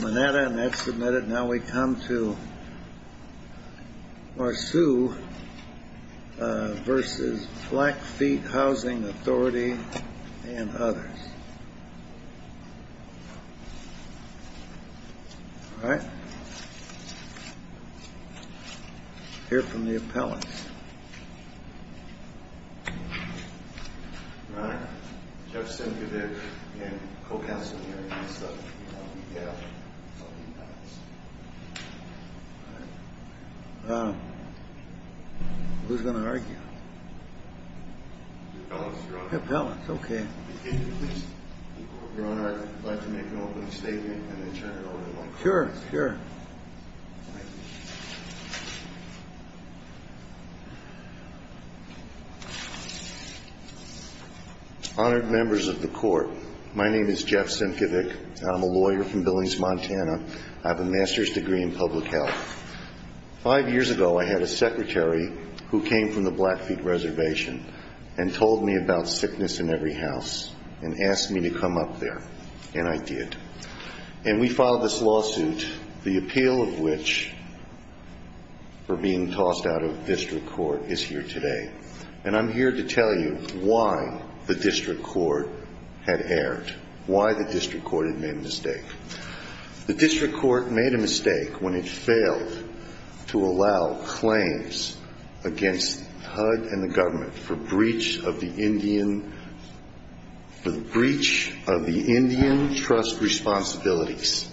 Now we come to Marceau v. Blackfeet Housing Authority and others. All right. Hear from the appellants. Who's going to argue? The appellants, okay. If you want to make an open statement, then they turn it over to you. Sure, sure. Honored members of the court, my name is Jeff Sienkiewicz. I'm a lawyer from Billings, Montana. I have a master's degree in public health. Five years ago, I had a secretary who came from the Blackfeet reservation and told me about sickness in every house and asked me to come up there. And I did. And we filed this lawsuit, the appeal of which, for being tossed out of district court, is here today. And I'm here to tell you why the district court had erred. Why the district court had made a mistake. The district court made a mistake when it failed to allow claims against HUD and the government for breach of the Indian trust responsibilities.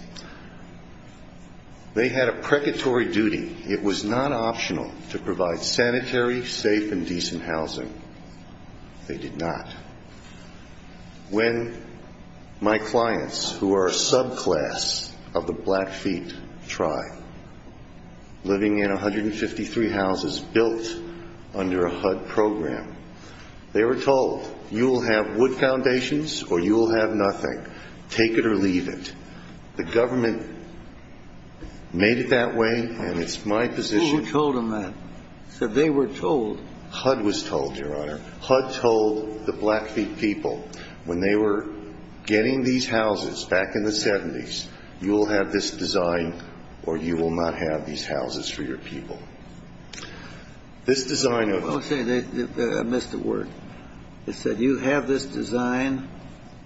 They had a precatory duty. It was not optional to provide sanitary, safe, and decent housing. They did not. When my clients, who are a subclass of the Blackfeet tribe, living in 153 houses built under a HUD program, they were told, you will have wood foundations or you will have nothing. Take it or leave it. The government made it that way, and it's my position. Who told them that? They were told. HUD was told, Your Honor. HUD told the Blackfeet people, when they were getting these houses back in the 70s, you will have this design or you will not have these houses for your people. This design of it. Okay. I missed a word. It said, you have this design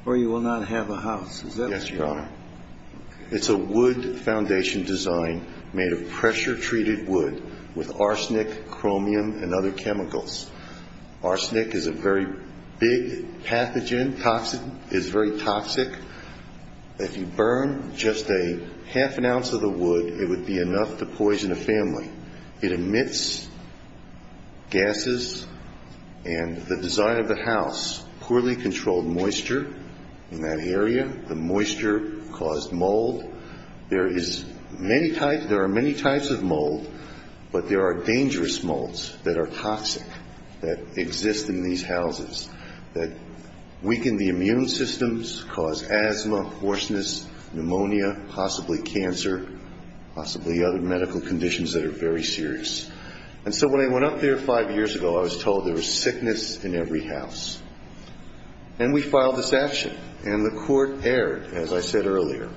or you will not have a house. Is that right? Yes, Your Honor. It's a wood foundation design made of pressure treated wood with arsenic, chromium, and other chemicals. Arsenic is a very big pathogen, toxin. It is very toxic. If you burn just a half an ounce of the wood, it would be enough to poison a family. It emits gases and the design of the house, poorly controlled moisture in that area, the moisture caused mold. There are many types of mold, but there are dangerous molds that are toxic that exist in these houses that weaken the immune systems, cause asthma, hoarseness, pneumonia, possibly cancer, possibly other medical conditions that are very serious. And so when I went up there five years ago, I was told there was sickness in every house. And we filed this action. And the court erred, as I said earlier,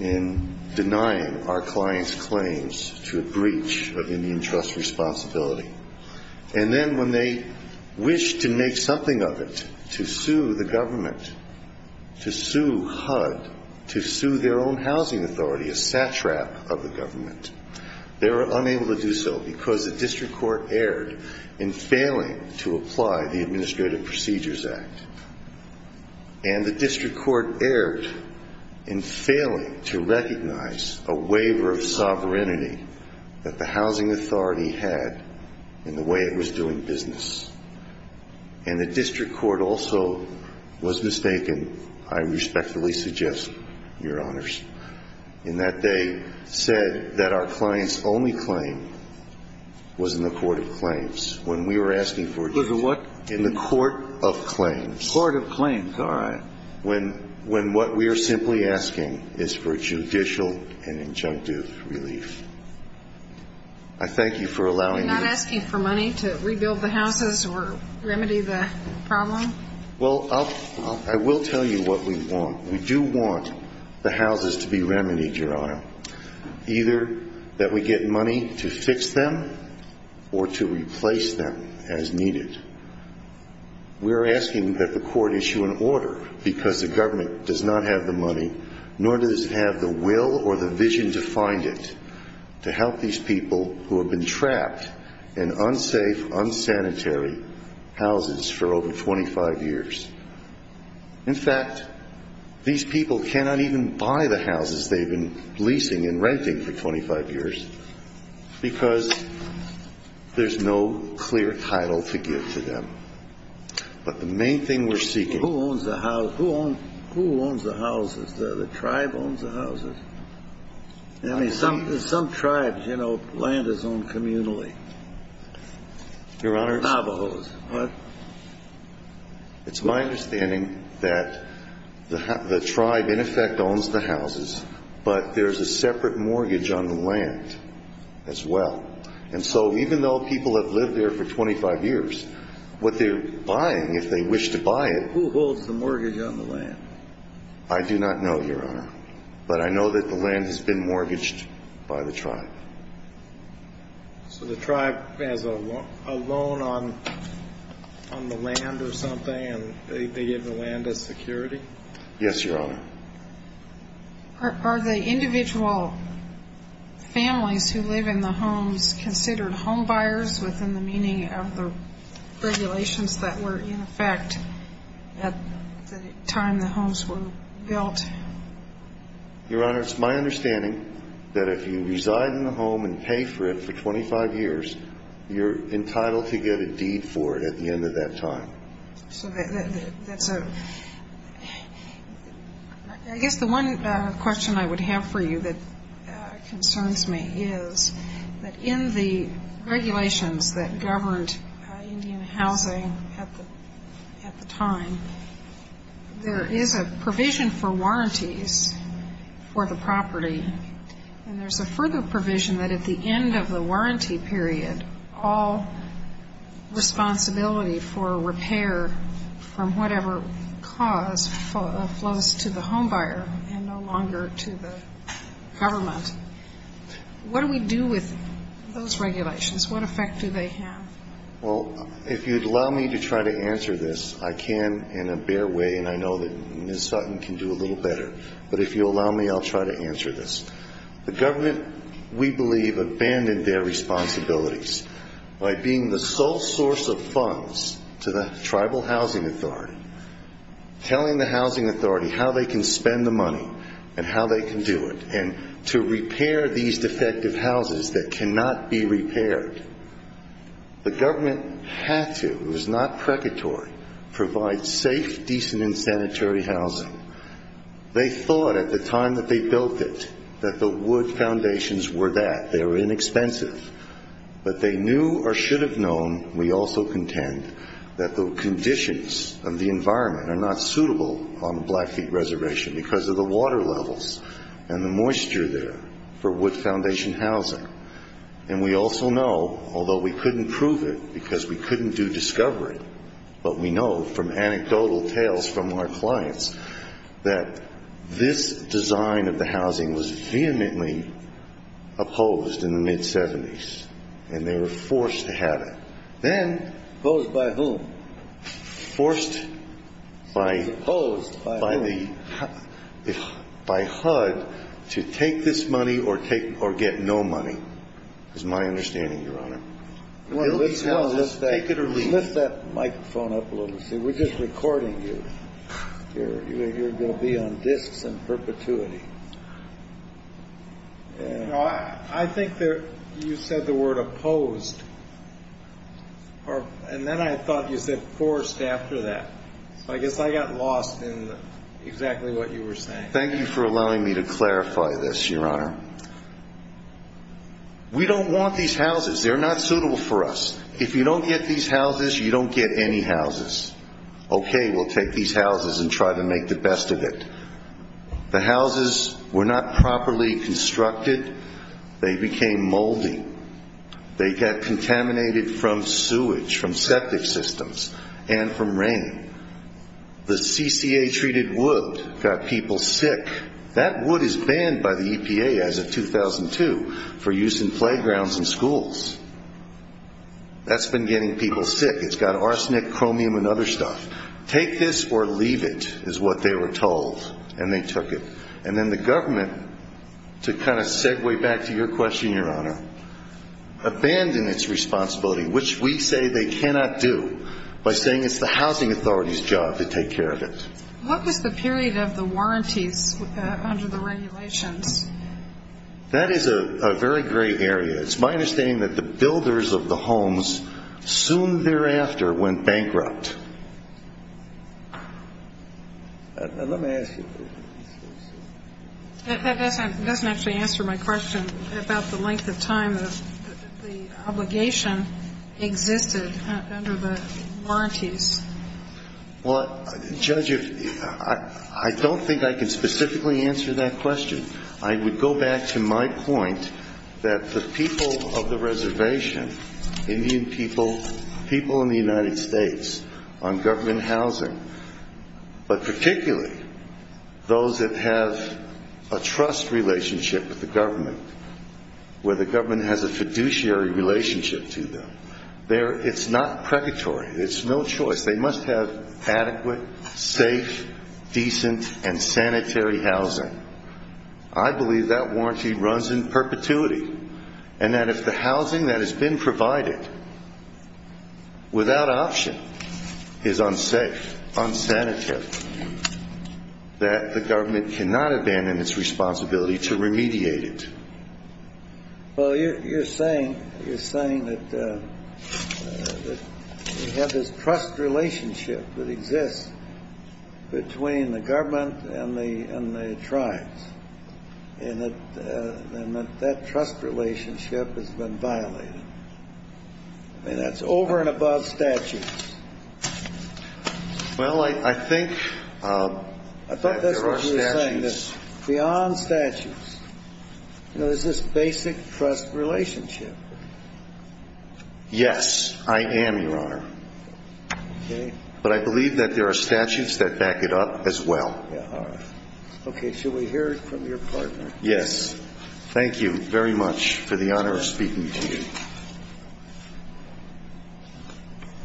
in denying our client's claims to a breach of immune trust responsibility. And then when they wished to make something of it, to sue the government, to sue HUD, to sue their own housing authority, a stat trap of the government, they were unable to do so because the district court erred in failing to apply the Administrative Procedures Act. And the district court erred in failing to recognize a waiver of sovereignty that the housing authority had in the way it was doing business. And the district court also was mistaken, I respectfully suggest, your honors, in that they said that our client's only claim was in the court of claims. In the court of claims, all right. When what we are simply asking is for judicial and injunctive relief. I thank you for allowing me to... You're not asking for money to rebuild the houses or remedy the problem? Well, I will tell you what we want. We do want the houses to be remedied, your honor. Either that we get money to fix them or to replace them as needed. We are asking that the court issue an order because the government does not have the money, nor does it have the will or the vision to find it, to help these people who have been trapped in unsafe, unsanitary houses for over 25 years. In fact, these people cannot even buy the houses they've been leasing and renting for 25 years because there's no clear title to give to them. But the main thing we're seeking... Who owns the house? Who owns the houses? The tribe owns the houses. I mean, some tribes, you know, land is owned communally. Your honors... Navajos. It's my understanding that the tribe in effect owns the houses, but there's a separate mortgage on the land as well. And so even though people have lived there for 25 years, what they're buying, if they wish to buy it... Who holds the mortgage on the land? I do not know, your honor. But I know that the land has been mortgaged by the tribe. So the tribe has a loan on the land or something, and they give the land as security? Yes, your honor. Are the individual families who live in the homes considered homebuyers within the meaning of the regulations that were in effect at the time the homes were built? Your honor, it's my understanding that if you reside in a home and pay for it for 25 years, you're entitled to get a deed for it at the end of that time. I guess the one question I would have for you that concerns me is that in the regulations that governed Indian housing at the time, there is a provision for warranties for the property. And there's a further provision that at the end of the warranty period, all responsibility for repair from whatever cause flows to the homebuyer and no longer to the government. What do we do with those regulations? What effect do they have? Well, if you'd allow me to try to answer this, I can in a bare way, and I know that Ms. Sutton can do a little better. But if you'll allow me, I'll try to answer this. The government, we believe, abandoned their responsibilities by being the sole source of funds to the Tribal Housing Authority, telling the Housing Authority how they can spend the money and how they can do it, and to repair these defective houses that cannot be repaired. The government had to, it was not precatory, provide safe, decent, and sanitary housing. They thought at the time that they built it that the wood foundations were that. They were inexpensive. But they knew or should have known, we also contend, that the conditions and the environment are not suitable on the Blackfeet Reservation because of the water levels and the moisture there for wood foundation housing. And we also know, although we couldn't prove it because we couldn't do discovery, but we know from anecdotal tales from our clients that this design of the housing was vehemently opposed in the mid-'70s, and they were forced to have it. Then, opposed by whom? Forced by HUD to take this money or get no money, is my understanding, Your Honor. Take it or leave it. Lift that microphone up a little bit. We're just recording you. You're going to be on disk in perpetuity. I think you said the word opposed, and then I thought you said forced after that. I guess I got lost in exactly what you were saying. Thank you for allowing me to clarify this, Your Honor. We don't want these houses. They're not suitable for us. If you don't get these houses, you don't get any houses. Okay, we'll take these houses and try to make the best of it. The houses were not properly constructed. They became moldy. They got contaminated from sewage, from septic systems, and from rain. The CCA-treated wood got people sick. That wood is banned by the EPA as of 2002 for use in playgrounds and schools. That's been getting people sick. It's got arsenic, chromium, and other stuff. Take this or leave it is what they were told, and they took it. And then the government, to kind of segue back to your question, Your Honor, abandoned its responsibility, which we say they cannot do, by saying it's the housing authority's job to take care of it. What was the period of the warranties under the regulations? That is a very great area. It's my understanding that the builders of the homes soon thereafter went bankrupt. Let me ask you. That doesn't actually answer my question about the length of time the obligation existed under the warranties. Well, Judge, I don't think I can specifically answer that question. I would go back to my point that the people of the reservation, Indian people, people in the United States on government housing, but particularly those that have a trust relationship with the government, where the government has a fiduciary relationship to them, it's not purgatory. It's no choice. They must have adequate, safe, decent, and sanitary housing. I believe that warranty runs in perpetuity, and that if the housing that has been provided without option is unsafe, unsanitary, that the government cannot abandon its responsibility to remediate it. Well, you're saying that you have this trust relationship that exists between the government and the tribes, and that that trust relationship has been violated. And that's over and above statutes. Well, I think there are statutes. Beyond statutes. There's this basic trust relationship. Yes, I am, Your Honor. But I believe that there are statutes that back it up as well. Okay, should we hear it from your partner? Yes. Thank you very much for the honor of speaking to you.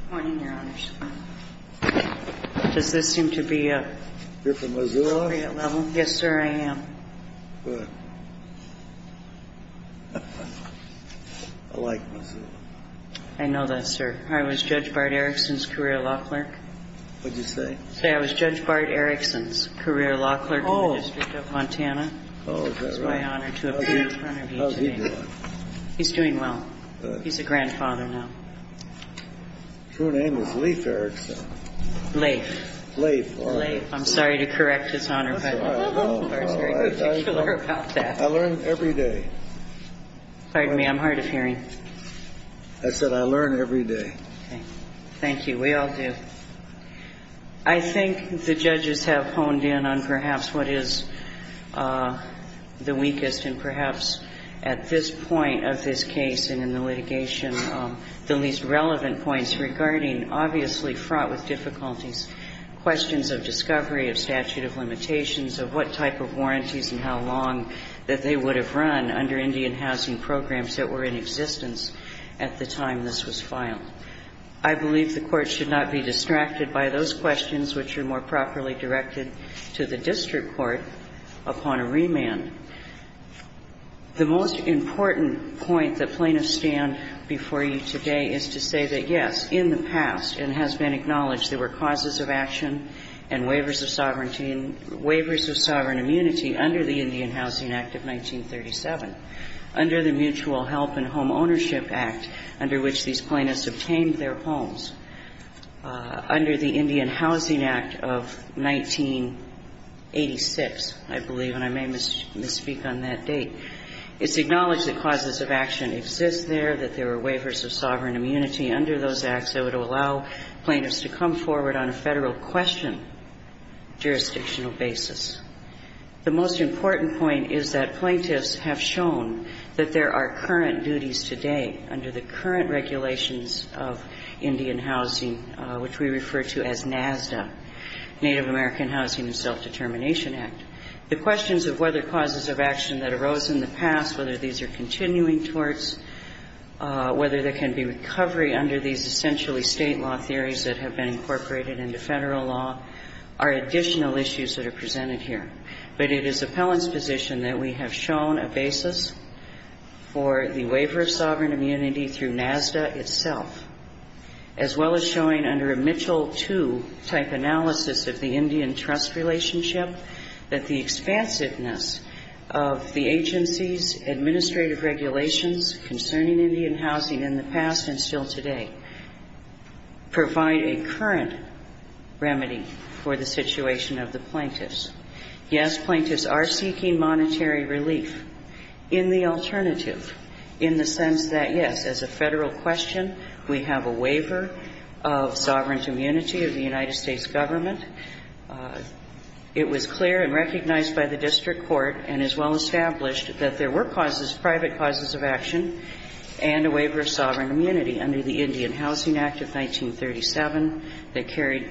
Good morning, Your Honor. Does this seem to be appropriate level? Yes, sir, I am. Good. I like Missouri. I know that, sir. I was Judge Bart Erickson's career law clerk. What did you say? I said I was Judge Bart Erickson's career law clerk in the District of Montana. Oh, is that right? It's my honor to appear in front of you today. How's he doing? He's doing well. Good. He's a grandfather now. True name was Leif Erickson. Leif. Leif. Leif. I'm sorry to correct his honor, but I'm very particular about that. I learn every day. Pardon me, I'm hard of hearing. I said I learn every day. Thank you. We all do. I think the judges have honed in on perhaps what is the weakest and perhaps at this point of this case and in the litigation, the least relevant points regarding obviously fraught with difficulties, questions of discovery, of statute of limitations, of what type of warranties and how long that they would have run under Indian housing programs that were in existence at the time this was filed. I believe the court should not be distracted by those questions which are more properly directed to the district court upon a remand. The most important point that plaintiffs stand before you today is to say that, yes, in the past and has been acknowledged, there were causes of action and waivers of sovereignty, waivers of sovereign immunity under the Indian Housing Act of 1937, under the Mutual Health and Home Ownership Act, under which these plaintiffs obtained their homes. Under the Indian Housing Act of 1986, I believe, and I may misspeak on that date, it's acknowledged that causes of action exist there, that there were waivers of sovereign immunity under those acts that would allow plaintiffs to come forward on a federal question jurisdictional basis. The most important point is that plaintiffs have shown that there are current duties today under the current regulations of Indian housing, which we refer to as NAVDA, Native American Housing and Self-Determination Act. The questions of whether causes of action that arose in the past, whether these are continuing torts, whether there can be recovery under these essentially state law theories that have been incorporated into federal law, are additional issues that are presented here. But it is appellant's position that we have shown a basis for the waiver of sovereign immunity through NAVDA itself, as well as showing under a Mitchell II type analysis of the Indian trust relationship, that the expansiveness of the agency's administrative regulations concerning Indian housing in the past and still today provide a current remedy for the situation of the plaintiffs. Yes, plaintiffs are seeking monetary relief in the alternative in the sense that, yes, as a federal question, we have a waiver of sovereign immunity of the United States government. It was clear and recognized by the district court and is well established that there were private causes of action and a waiver of sovereign immunity under the Indian Housing Act of 1937 that carried,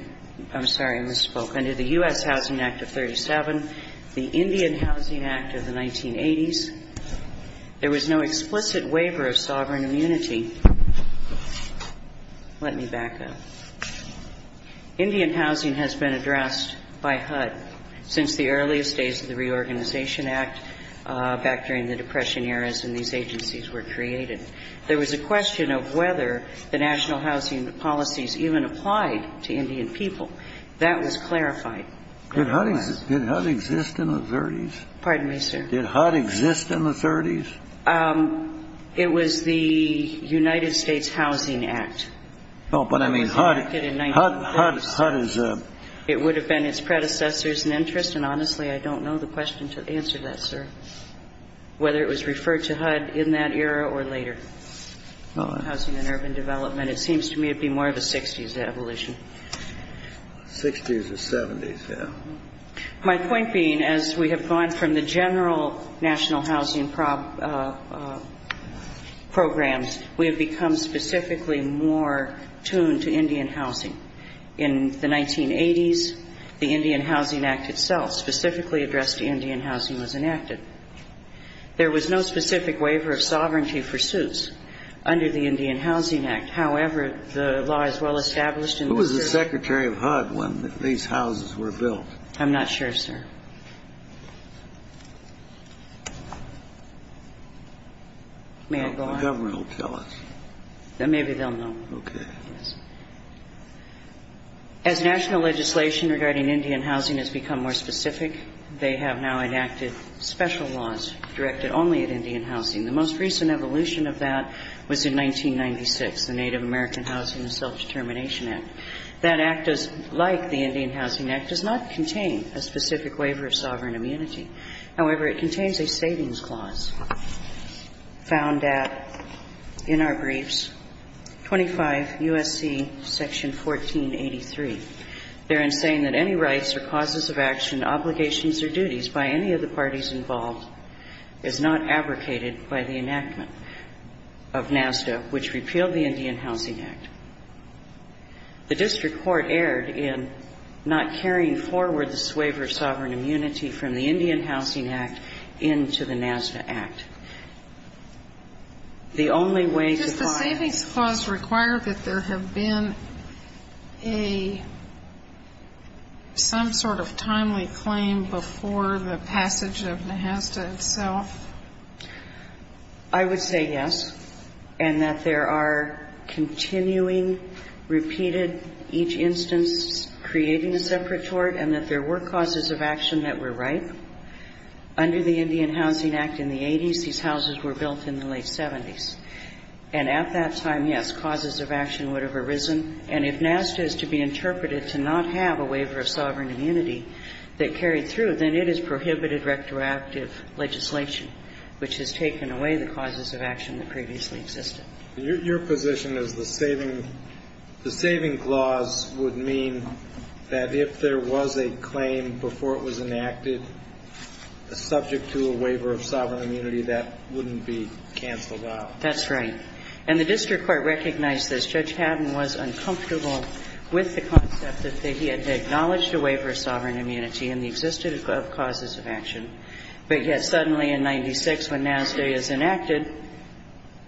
I'm sorry, I misspoke, under the U.S. Housing Act of 37, the Indian Housing Act of the 1980s. There was no explicit waiver of sovereign immunity. Let me back up. Indian housing has been addressed by HUD since the earliest days of the Reorganization Act back during the Depression years when these agencies were created. There was a question of whether the national housing policies even applied to Indian people. That was clarified. Did HUD exist in the 30s? Pardon me, sir? Did HUD exist in the 30s? It was the United States Housing Act. But, I mean, HUD is a... It would have been its predecessors in interest, and honestly, I don't know the question to answer that, sir, whether it was referred to HUD in that era or later. Housing and urban development, it seems to me it would be more of a 60s evolution. 60s or 70s, yeah. My point being, as we have gone from the general national housing programs, we have become specifically more tuned to Indian housing. In the 1980s, the Indian Housing Act itself, specifically addressed to Indian housing, was enacted. There was no specific waiver of sovereignty for suits under the Indian Housing Act. However, the law is well established in the 30s. Who was the secretary of HUD when these houses were built? I'm not sure, sir. May I go on? The government will tell us. Maybe they'll know. Okay. As national legislation regarding Indian housing has become more specific, they have now enacted special laws directed only at Indian housing. The most recent evolution of that was in 1996, the Native American Housing and Self-Determination Act. That act, like the Indian Housing Act, does not contain a specific waiver of sovereign immunity. However, it contains a savings clause. Found that in our briefs, 25 U.S.C. section 1483, therein saying that any rights or causes of action, obligations or duties by any of the parties involved is not abrogated by the enactment of NASA, which repealed the Indian Housing Act. The district court erred in not carrying forward the waiver of sovereign immunity from the Indian Housing Act into the NASA act. The only way to find- Does the savings clause require that there have been a, some sort of timely claim before the passage of NASA itself? I would say yes, and that there are continuing, repeated, each instance creating a separate court, and that there were causes of action that were right. Under the Indian Housing Act in the 80s, these houses were built in the late 70s. And at that time, yes, causes of action would have arisen. And if NASA is to be interpreted to not have a waiver of sovereign immunity that carried through, then it is prohibited retroactive legislation, which has taken away the causes of action that previously existed. Your position is the saving clause would mean that if there was a claim before it was enacted, subject to a waiver of sovereign immunity, that wouldn't be canceled out. That's right. And the district court recognized this. Judge Patton was uncomfortable with the concept that he had acknowledged a waiver of sovereign immunity in the existence of causes of action. But yet suddenly in 96, when NASA is enacted,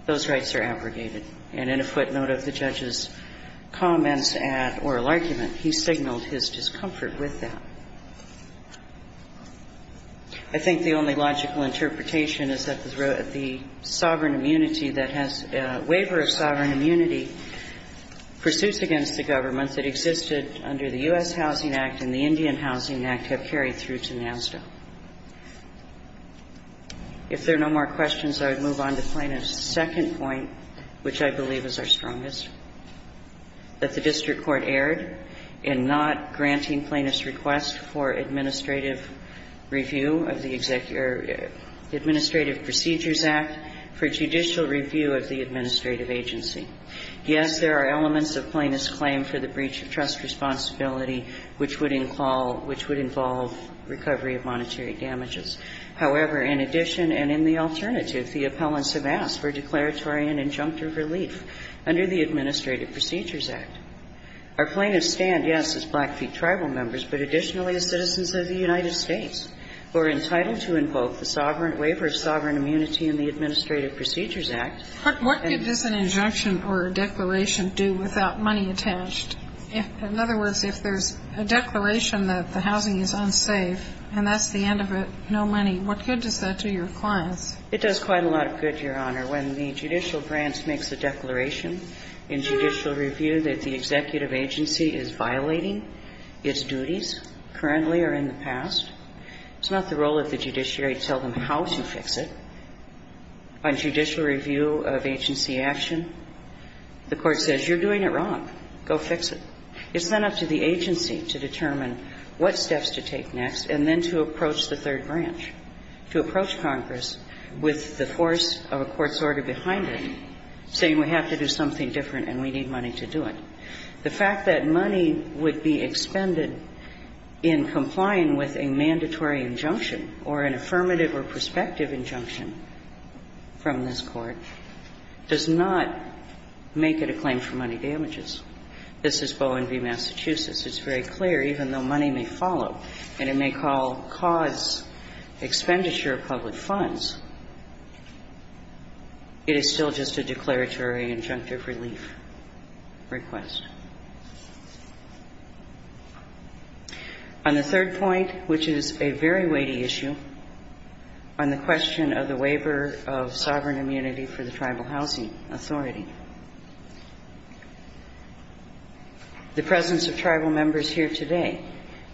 those rights are abrogated. And in a footnote of the judge's comments or argument, he signaled his discomfort with that. I think the only logical interpretation is that the waiver of sovereign immunity pursuits against the government that existed under the U.S. Housing Act and the Indian Housing Act have carried through to NASA. If there are no more questions, I would move on to Plaintiff's second point, which I believe is our strongest, that the district court erred in not granting Plaintiff's request for administrative review of the Administrative Procedures Act for judicial review of the administrative agency. Yes, there are elements of Plaintiff's claim for the breach of trust responsibility which would involve recovery of monetary damages. However, in addition and in the alternative, the appellants have asked for declaratory and injunctive relief under the Administrative Procedures Act. Our plaintiffs stand, yes, as Blackfeet tribal members, but additionally as citizens of the United States who are entitled to invoke the waiver of sovereign immunity in the Administrative Procedures Act. What could just an injunction or a declaration do without money attached? In other words, if there's a declaration that the housing is unsafe and that's the end of it, no money, what could this do to your clients? It does quite a lot of good, Your Honor. When the judicial branch makes a declaration in judicial review that the executive agency is violating its duties currently or in the past, it's not the role of the judiciary to tell them how to fix it. On judicial review of agency action, the court says, you're doing it wrong, go fix it. It's then up to the agency to determine what steps to take next and then to approach the third branch, to approach Congress with the force of a court's order behind it, saying we have to do something different and we need money to do it. The fact that money would be expended in complying with a mandatory injunction or an affirmative or prospective injunction from this court does not make it a claim for money damages. This is Bowen v. Massachusetts. It's very clear, even though money may follow and it may cause expenditure of public funds, it is still just a declaratory injunctive relief request. On the third point, which is a very weighty issue, on the question of the waiver of sovereign immunity for the Tribal Housing Authority, the presence of Tribal members here today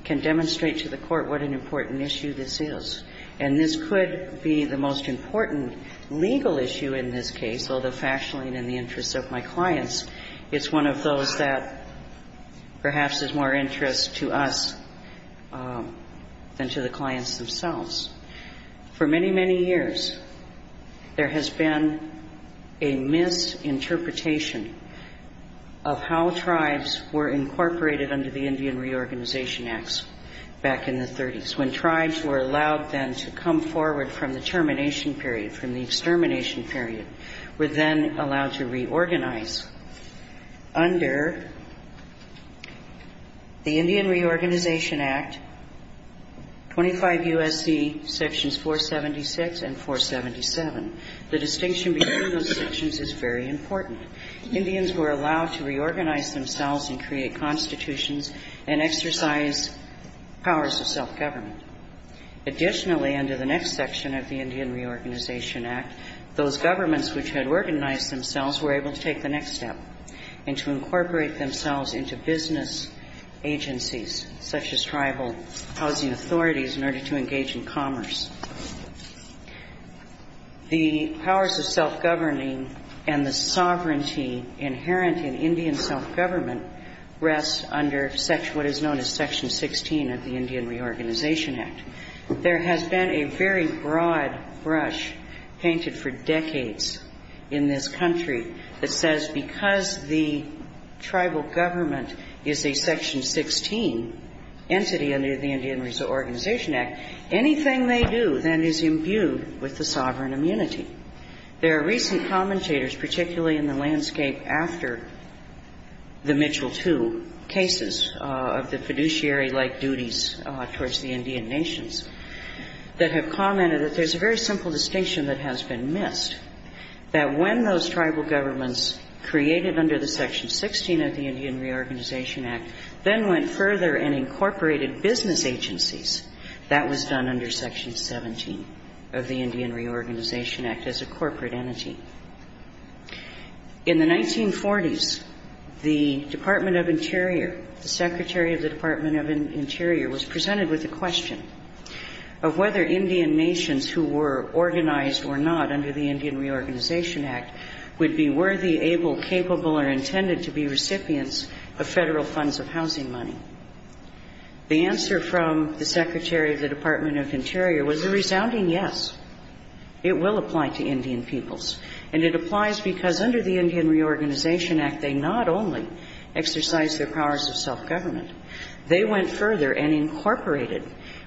can demonstrate to the court what an important issue this is. And this could be the most important legal issue in this case, although factually in the interest of my clients, it's one of those that perhaps there's more interest to us than to the clients themselves. For many, many years, there has been a misinterpretation of how tribes were incorporated under the Indian Reorganization Acts back in the 30s. When tribes were allowed then to come forward from the termination period, from the extermination period, were then allowed to reorganize under the Indian Reorganization Act, 25 U.S.C. Sections 476 and 477. The distinction between those sections is very important. Indians were allowed to reorganize themselves and create constitutions and exercise powers of self-government. Additionally, under the next section of the Indian Reorganization Act, those governments which had organized themselves were able to take the next step and to incorporate themselves into business agencies such as tribal housing authorities in order to engage in commerce. The powers of self-governing and the sovereignty inherent in Indian self-government rests under what is known as Section 16 of the Indian Reorganization Act. There has been a very broad brush painted for decades in this country that says because the tribal government is a Section 16 entity under the Indian Reorganization Act, anything they do then is imbued with the sovereign immunity. There are recent commentators, particularly in the landscape after the Mitchell II cases of the fiduciary-like duties towards the Indian nations, that have commented that there's a very simple distinction that has been missed. That when those tribal governments created under the Section 16 of the Indian Reorganization Act then went further and incorporated business agencies, that was done under Section 17 of the Indian Reorganization Act as a corporate entity. In the 1940s, the Department of Interior, the Secretary of the Department of Interior was presented with the question of whether Indian nations who were organized or not under the Indian Reorganization Act would be worthy, able, capable, or intended to be recipients of federal funds of housing money. The answer from the Secretary of the Department of Interior was a resounding yes. It will apply to Indian peoples. And it applies because under the Indian Reorganization Act, they not only exercised their powers of self-government, they went further and incorporated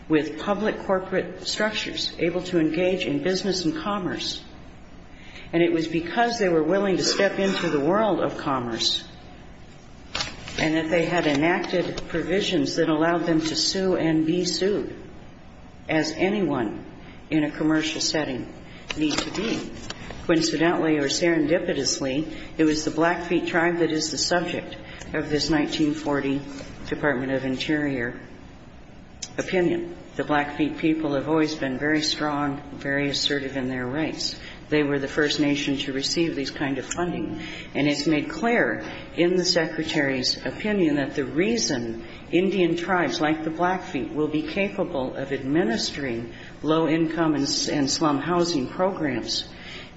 with public corporate structures able to engage in business and commerce. And it was because they were willing to step into the world of commerce and that they had enacted provisions that allowed them to sue and be sued as anyone in a commercial setting needs to be. Coincidentally or serendipitously, it was the Blackfeet tribe that is the subject of this 1940 Department of Interior opinion. The Blackfeet people have always been very strong, very assertive in their race. They were the first nation to receive this kind of funding. And it's made clear in the Secretary's opinion that the reason Indian tribes like the Blackfeet will be capable of administering low-income and slum housing programs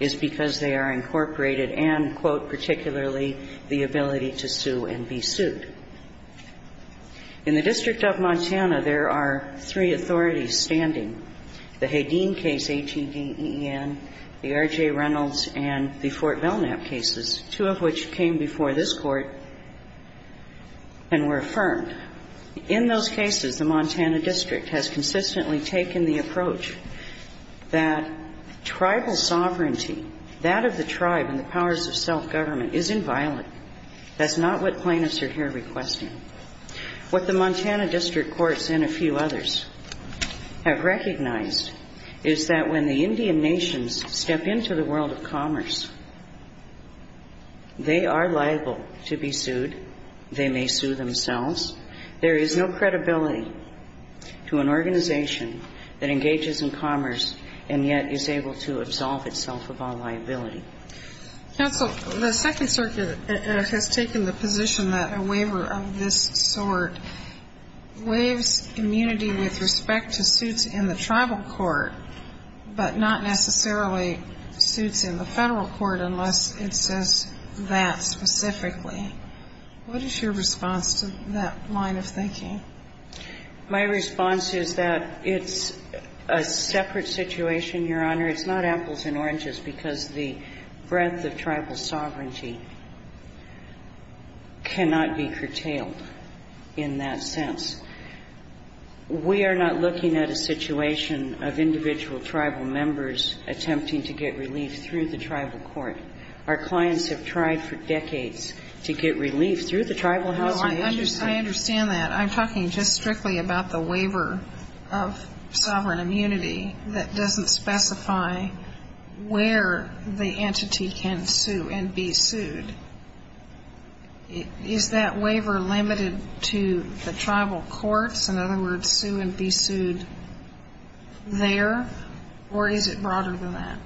is because they are incorporated and, quote, particularly the ability to sue and be sued. In the District of Montana, there are three authorities standing. The Hageen case, H-E-D-E-N, the R.J. Reynolds, and the Fort Belknap cases, two of which came before this Court and were affirmed. In those cases, the Montana District has consistently taken the approach that tribal sovereignty, that of the tribe and the powers of self-government, is inviolate. That's not what plaintiffs are here requesting. What the Montana District Courts and a few others have recognized is that when the Indian nations step into the world of commerce, they are liable to be sued. They may sue themselves. There is no credibility to an organization that engages in commerce and yet is able to absolve itself of all liability. Now, but the Texas Circuit has taken the position that a waiver of this sort waives immunity with respect to suits in the tribal court, but not necessarily suits in the federal court unless it says that specifically. What is your response to that line of thinking? My response is that it's a separate situation, Your Honor. It's not apples and oranges because the breadth of tribal sovereignty cannot be curtailed in that sense. We are not looking at a situation of individual tribal members attempting to get relief through the tribal court. Our clients have tried for decades to get relief through the tribal house. I understand that. I'm talking just strictly about the waiver of sovereign immunity that doesn't specify where the entity can sue and be sued. Is that waiver limited to the tribal courts? In other words, sue and be sued there? Or is it broader than that?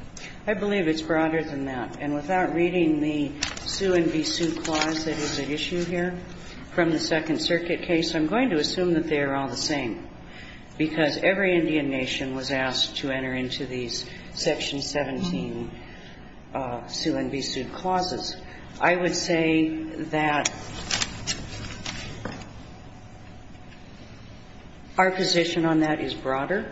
I believe it's broader than that, and without reading the sue and be sued clause that is at issue here from the Second Circuit case, I'm going to assume that they're all the same because every Indian nation was asked to enter into these Section 17 sue and be sued clauses. I would say that our position on that is broader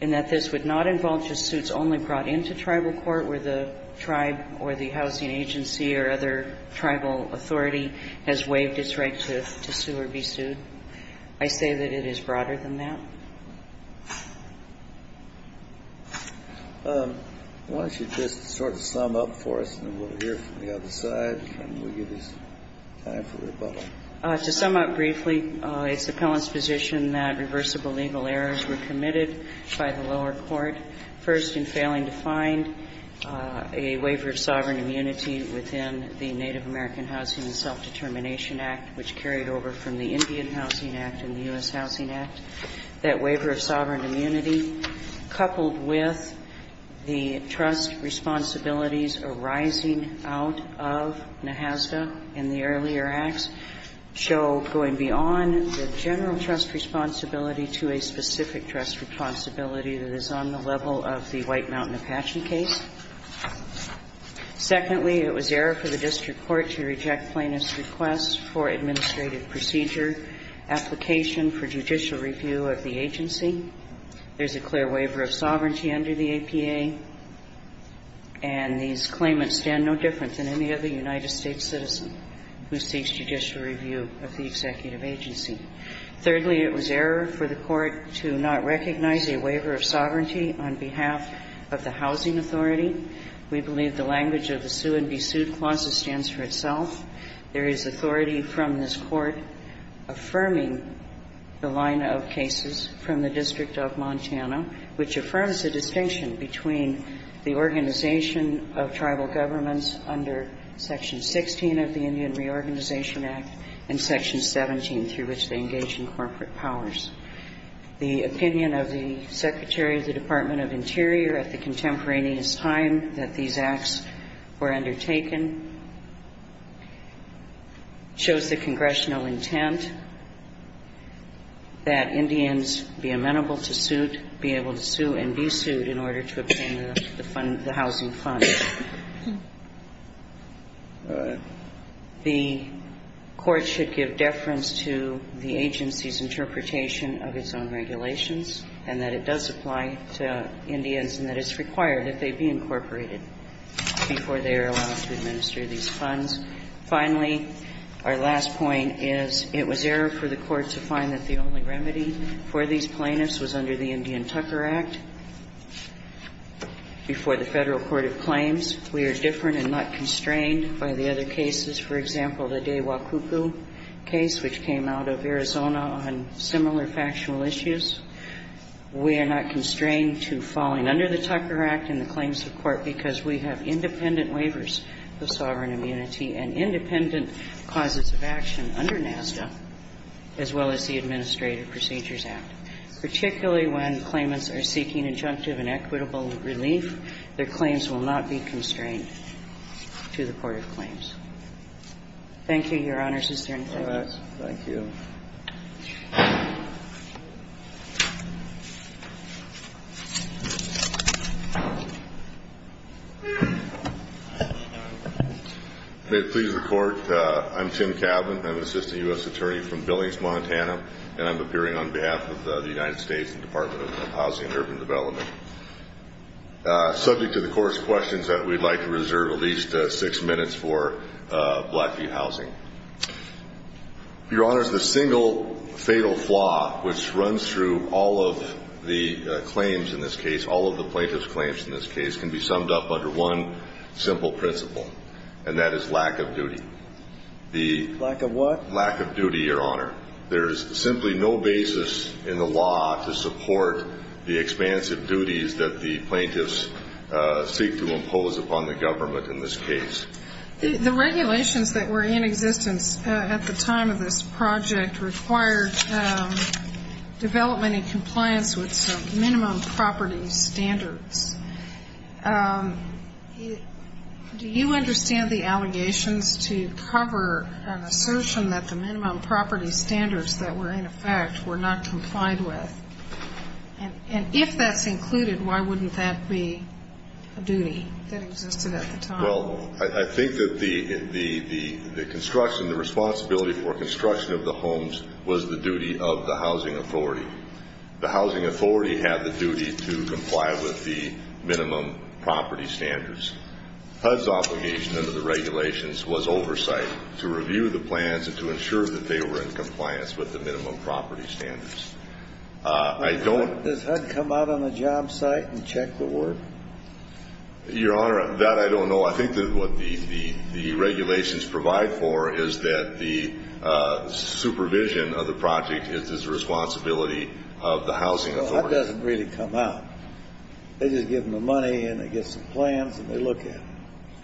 in that this would not involve just suits only brought into tribal court where the tribe or the housing agency or other tribal authority has waived its right to sue or be sued. I say that it is broader than that. Why don't you just sort of sum up for us and we'll hear from the other side and we'll give this time to the public. To sum up briefly, it's the appellant's position that reversible legal errors were committed by the lower court, first in failing to find a waiver of sovereign immunity within the Native American Housing and Self-Determination Act, which carried over from the Indian Housing Act and the U.S. Housing Act. That waiver of sovereign immunity, coupled with the trust responsibilities arising out of NAHASDA in the earlier acts, show going beyond the general trust responsibility to a specific trust responsibility that is on the level of the White Mountain Apache case. Secondly, it was error for the district court to reject plaintiff's request for administrative procedure application for judicial review of the agency. There's a clear waiver of sovereignty under the APA and these claimants stand no different than any other United States citizen who seeks judicial review of the executive agency. Thirdly, it was error for the court to not recognize a waiver of sovereignty on behalf of the housing authority. We believe the language of the sue and be sued clause stands for itself. There is authority from this court affirming the line of cases from the District of Montana, which affirms the distinction between the organization of tribal governments under Section 16 of the Indian Reorganization Act and Section 17 through which they engage in corporate powers. The opinion of the Secretary of the Department of Interior at the contemporaneous time that these acts were undertaken shows the congressional intent that Indians be amenable to suit, be able to sue and be sued in order to obtain the housing funds. The court should give deference to the agency's interpretation of its own regulations and that it does apply to Indians and that it's required that they be incorporated before they are allowed to administer these funds. Finally, our last point is it was error for the court to find that the only remedy for these plaintiffs was under the Indian Tucker Act before the Federal Court of Claims. We are different and not constrained by the other cases. For example, the DeWa Kupu case, which came out of Arizona on similar factual issues. We are not constrained to falling under the Tucker Act and the claims to court because we have independent waivers for sovereign immunity and independent causes of action under NASDA as well as the Administrative Procedures Act. Particularly when claimants are seeking injunctive and equitable relief, their claims will not be constrained to the court of claims. Thank you, Your Honor. Thank you. May it please the court, I'm Tim Calvin. I'm an Assistant U.S. Attorney from Billings, Montana, and I'm appearing on behalf of the United States Department of Housing and Urban Development. Subject to the court's questions, we'd like to reserve at least six minutes for Blackview Housing. Your Honor, the single fatal flaw which runs through all of the claims in this case, all of the plaintiff's claims in this case, can be summed up under one simple principle, and that is lack of duty. Lack of what? Lack of duty, Your Honor. There is simply no basis in the law to support the expansive duties that the plaintiffs seek to impose upon the government in this case. The regulations that were in existence at the time of this project required development and compliance with minimum property standards. Do you understand the allegations to cover an assertion that the minimum property standards that were in effect were not complied with? And if that's included, why wouldn't that be a duty? Well, I think that the construction, the responsibility for construction of the homes, was the duty of the housing authority. The housing authority had the duty to comply with the minimum property standards. HUD's obligation under the regulations was oversight to review the plans and to ensure that they were in compliance with the minimum property standards. Does HUD come out on the job site and check the work? Your Honor, that I don't know. I think that what the regulations provide for is that the supervision of the project is the responsibility of the housing authority. HUD doesn't really come out. They just give them the money and they get some plans and they look at them.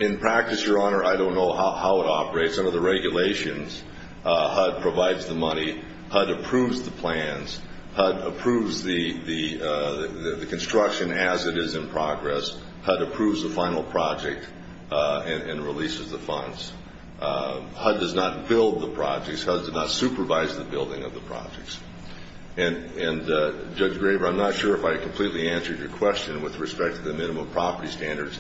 In practice, Your Honor, I don't know how it operates. Under the regulations, HUD provides the money. HUD approves the plans. HUD approves the construction as it is in progress. HUD approves the final project and releases the funds. HUD does not build the projects. HUD does not supervise the building of the projects. And Judge Graber, I'm not sure if I completely answered your question with respect to the minimum property standards.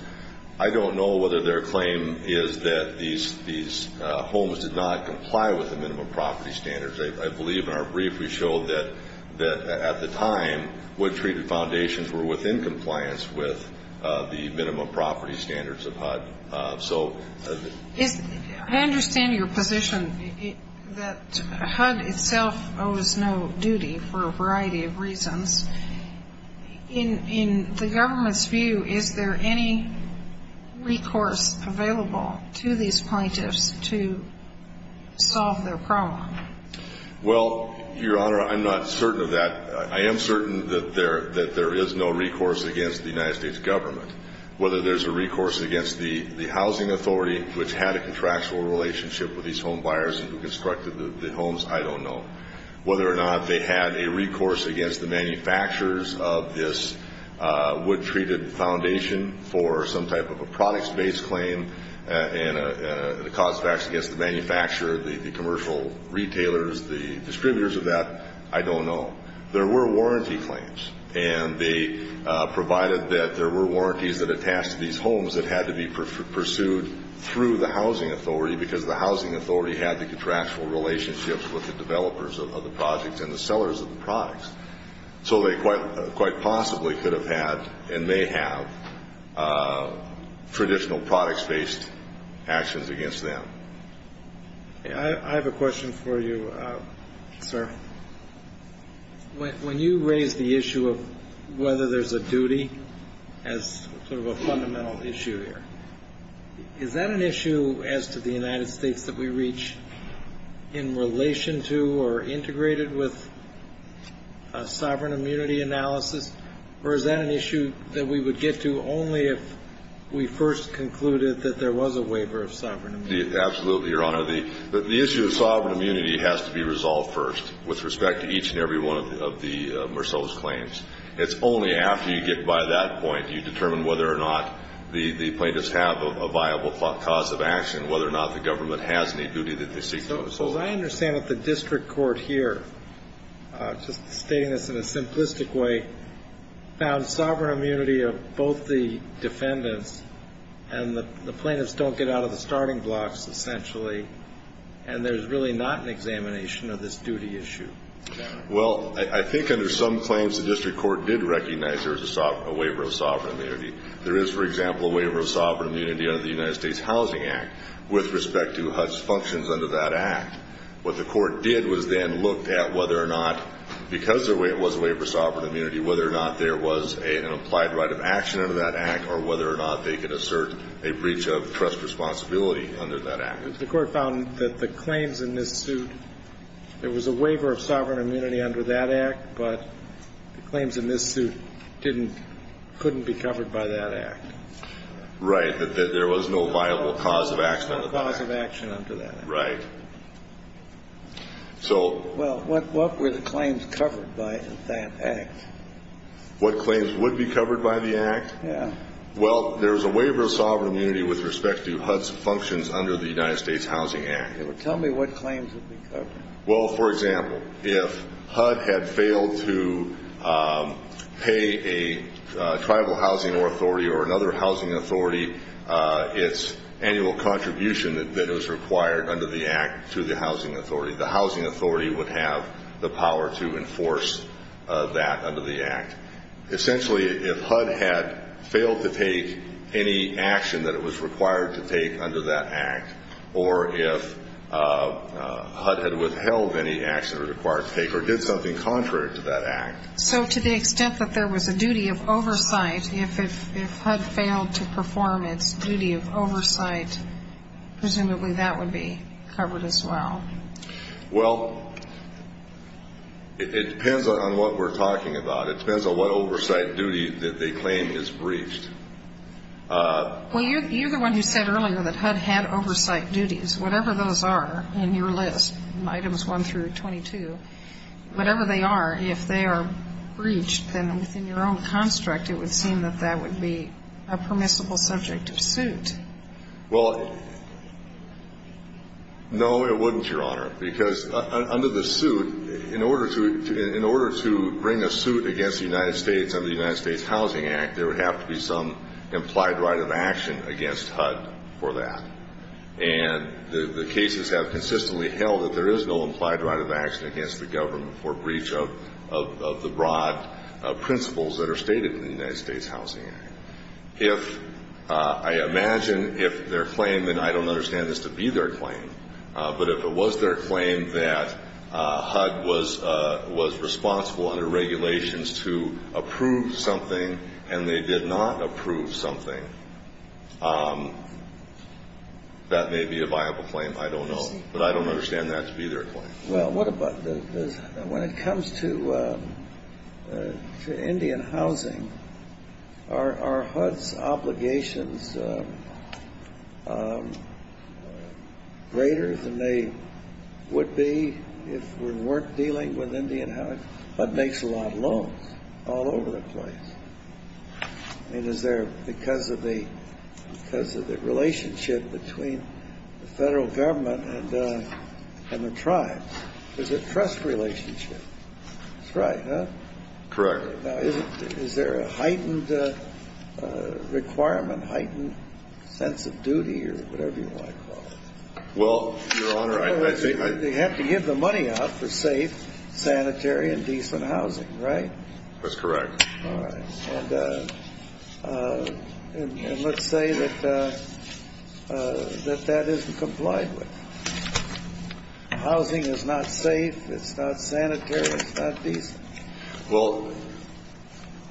I don't know whether their claim is that these homes did not comply with the minimum property standards. I believe in our brief we showed that at the time, what treated foundations were within compliance with the minimum property standards of HUD. I understand your position that HUD itself owes no duty for a variety of reasons. In the government's view, is there any recourse available to these plaintiffs to solve their problem? Well, Your Honor, I'm not certain of that. I am certain that there is no recourse against the United States government. Whether there's a recourse against the housing authority, which had a contractual relationship with these home buyers who constructed the homes, I don't know. Whether or not they had a recourse against the manufacturers of this wood-treated foundation for some type of a products-based claim and a cause-effects against the manufacturer, the commercial retailers, the distributors of that, I don't know. There were warranty claims, and they provided that there were warranties that attached to these homes that had to be pursued through the housing authority because the housing authority had the contractual relationships with the developers of the projects and the sellers of the products. So they quite possibly could have had, and they have, traditional products-based actions against them. I have a question for you, sir. When you raise the issue of whether there's a duty as sort of a fundamental issue here, is that an issue as to the United States that we reach in relation to or integrated with a sovereign immunity analysis, or is that an issue that we would get to only if we first concluded that there was a waiver of sovereign immunity? Absolutely, Your Honor. The issue of sovereign immunity has to be resolved first with respect to each and every one of the Mercellus claims. It's only after you get by that point you determine whether or not the plaintiffs have a viable cause of action, whether or not the government has any duty that they seek to impose. But I understand that the district court here, stating this in a simplistic way, found sovereign immunity of both the defendants, and the plaintiffs don't get out of the starting blocks, essentially, and there's really not an examination of this duty issue. Well, I think under some claims the district court did recognize there's a waiver of sovereign immunity. There is, for example, a waiver of sovereign immunity under the United States Housing Act with respect to HUD's functions under that act. What the court did was then look at whether or not, because there was a waiver of sovereign immunity, whether or not there was an implied right of action under that act or whether or not they could assert a breach of trust responsibility under that act. The court found that the claims in this suit, there was a waiver of sovereign immunity under that act, but the claims in this suit couldn't be covered by that act. Right, that there was no viable cause of action under that act. No cause of action under that act. Right. Well, what were the claims covered by that act? What claims would be covered by the act? Yes. Well, there's a waiver of sovereign immunity with respect to HUD's functions under the United States Housing Act. Tell me what claims would be covered. Well, for example, if HUD had failed to pay a tribal housing authority or another housing authority its annual contribution that is required under the act to the housing authority, the housing authority would have the power to enforce that under the act. Essentially if HUD had failed to take any action that it was required to take under that act or if HUD had withheld any action it was required to take or did something contrary to that act. So to the extent that there was a duty of oversight, if HUD failed to perform its duty of oversight, presumably that would be covered as well. Well, it depends on what we're talking about. It depends on what oversight duty that they claim is breached. Well, you're the one who said earlier that HUD had oversight duties. Whatever those are in your list, items 1 through 22, whatever they are, if they are breached, then in your own construct it would seem that that would be a permissible subject of suit. Well, no it wouldn't, Your Honor, because under the suit, in order to bring a suit against the United States under the United States Housing Act, there would have to be some implied right of action against HUD for that. And the cases have consistently held that there is no implied right of action against the government for breach of the broad principles that are stated in the United States Housing Act. If I imagine if their claim, and I don't understand this to be their claim, but if it was their claim that HUD was responsible under regulations to approve something and they did not approve something, that may be a viable claim, I don't know. But I don't understand that to be their claim. Well, when it comes to Indian housing, are HUD's obligations greater than they would be if we weren't dealing with Indian housing? HUD makes a lot of loans all over the place. And is there, because of the relationship between the federal government and the tribes, there's a trust relationship. That's right, no? Correct. Is there a heightened requirement, heightened sense of duty or whatever you want to call it? Well, Your Honor, I think... They have to give the money up to save sanitary and decent housing, right? That's correct. All right. And let's say that that isn't complied with. Housing is not safe, it's not sanitary, it's not decent. Well,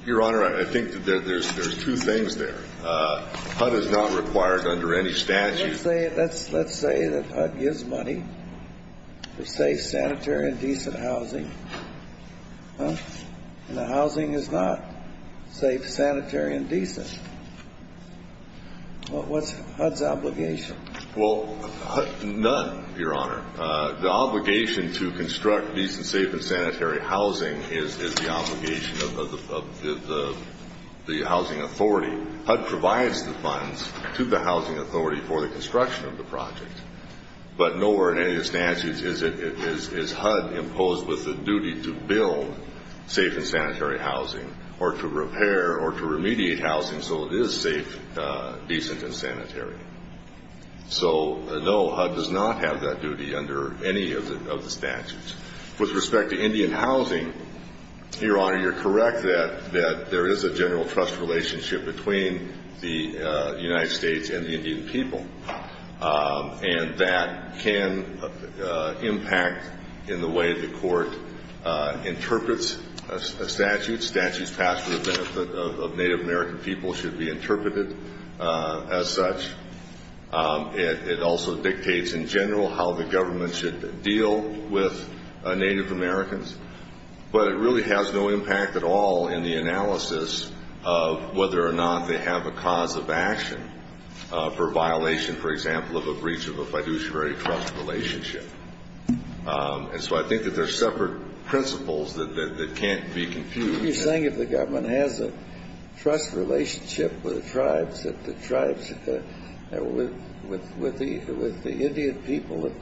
Your Honor, I think that there's two things there. HUD is not required under any statute. Let's say that HUD gives money to save sanitary and decent housing. And the housing is not safe, sanitary, and decent. What's HUD's obligation? Well, none, Your Honor. The obligation to construct decent, safe, and sanitary housing is the obligation of the housing authority. HUD provides the funds to the housing authority for the construction of the project. But nowhere in any of the statutes is HUD imposed with the duty to build safe and sanitary housing or to repair or to remediate housing so it is safe, decent, and sanitary. So, no, HUD does not have that duty under any of the statutes. With respect to Indian housing, Your Honor, you're correct that there is a general trust relationship between the United States and the Indian people. And that can impact in the way the court interprets a statute. Statutes passed for the benefit of Native American people should be interpreted as such. It also dictates in general how the government should deal with Native Americans. But it really has no impact at all in the analysis of whether or not they have a cause of action for violation, for example, of a breach of a fiduciary trust relationship. And so I think that there's separate principles that can't be confused. You're saying if the government has a trust relationship with the tribes, with the Indian people, that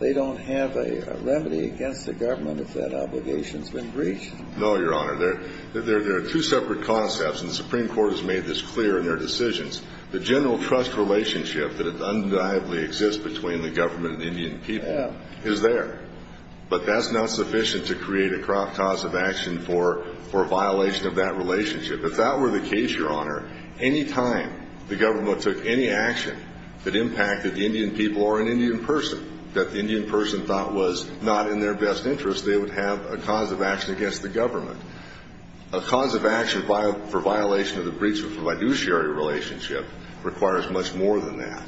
they don't have a remedy against the government if that obligation's been breached? No, Your Honor. There are two separate concepts, and the Supreme Court has made this clear in their decisions. The general trust relationship that undeniably exists between the government and the Indian people is there. But that's not sufficient to create a cause of action for a violation of that relationship. If that were the case, Your Honor, any time the government took any action that impacted the Indian people or an Indian person that the Indian person thought was not in their best interest, they would have a cause of action against the government. A cause of action for violation of the breach of a fiduciary relationship requires much more than that.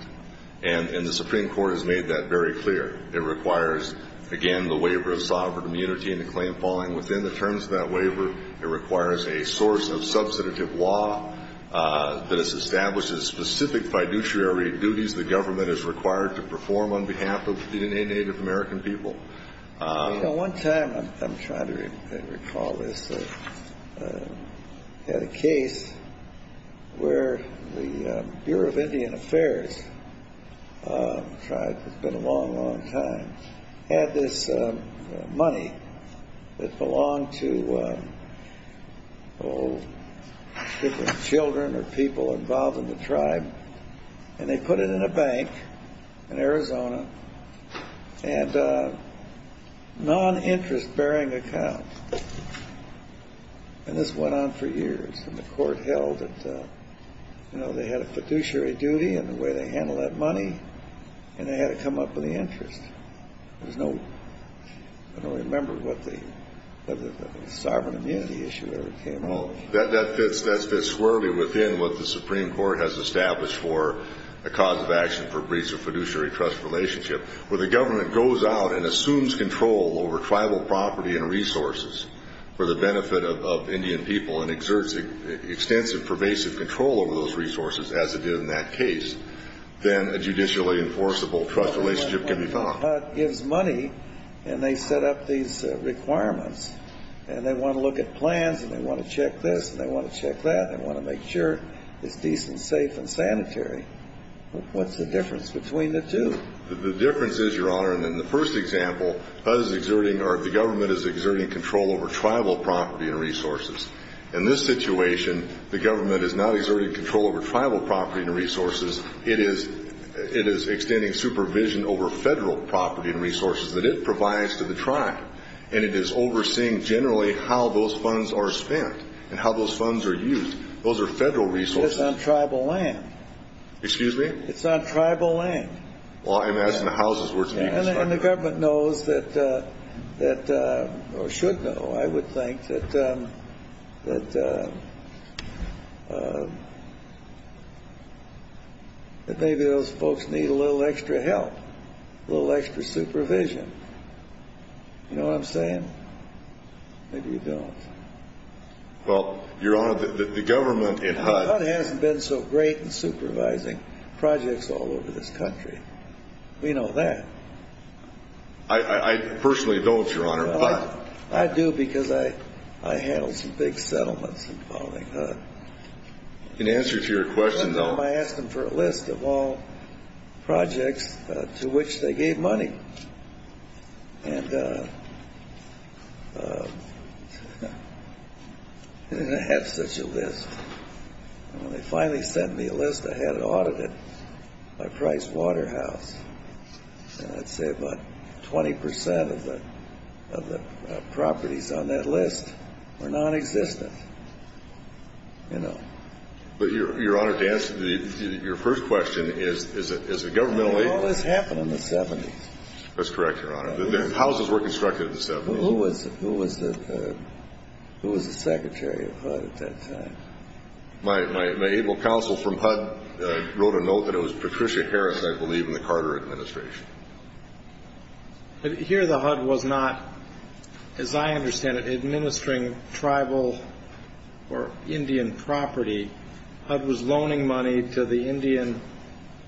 And the Supreme Court has made that very clear. It requires, again, the waiver of sovereign immunity and a claim falling within the terms of that waiver. It requires a source of substantive law that establishes specific fiduciary duties the government is required to perform on behalf of the Native American people. You know, one time, I'm trying to recall this, we had a case where the Bureau of Indian Affairs, the tribe that's been a long, long time, had this money that belonged to children or people involved in the tribe. And they put it in a bank in Arizona and a non-interest-bearing account. And this went on for years. And the court held that they had a fiduciary duty in the way they handled that money and it had to come up in the interest. I don't remember what the sovereign immunity issue was. That fits squarely within what the Supreme Court has established for the cause of action for breach of fiduciary trust relationship. When the government goes out and assumes control over tribal property and resources for the benefit of Indian people and exerts extensive, pervasive control over those resources, as it did in that case, then a judicially enforceable trust relationship can be found. But if HUD gives money and they set up these requirements and they want to look at plans and they want to check this and they want to check that, they want to make sure it's decent, safe, and sanitary, what's the difference between the two? The difference is, Your Honor, in the first example, HUD is exerting or the government is exerting control over tribal property and resources. In this situation, the government is not exerting control over tribal property and resources. It is extending supervision over federal property and resources that it provides to the tribe. And it is overseeing, generally, how those funds are spent and how those funds are used. Those are federal resources. It's on tribal land. Excuse me? It's on tribal land. Well, I'm asking the houses where it's being constructed. And the government knows, or should know, I would think, that maybe those folks need a little extra help, a little extra supervision. You know what I'm saying? Maybe you don't. Well, Your Honor, the government in HUD... HUD hasn't been so great in supervising projects all over this country. We know that. I personally don't, Your Honor. I do because I handle some big settlements and all that kind of stuff. In answer to your question, though... I asked them for a list of all projects to which they gave money. And they had such a list. And when they finally sent me a list, I had it audited by Price Waterhouse. And I'd say about 20% of the properties on that list were non-existent. But, Your Honor, to answer your first question, is the government... The houses happened in the 70s. That's correct, Your Honor. The houses were constructed in the 70s. Who was the secretary of HUD at that time? My able counsel from HUD wrote a note that it was Patricia Harris, I believe, in the Carter administration. But here the HUD was not, as I understand it, administering tribal or Indian property. HUD was loaning money to the Indian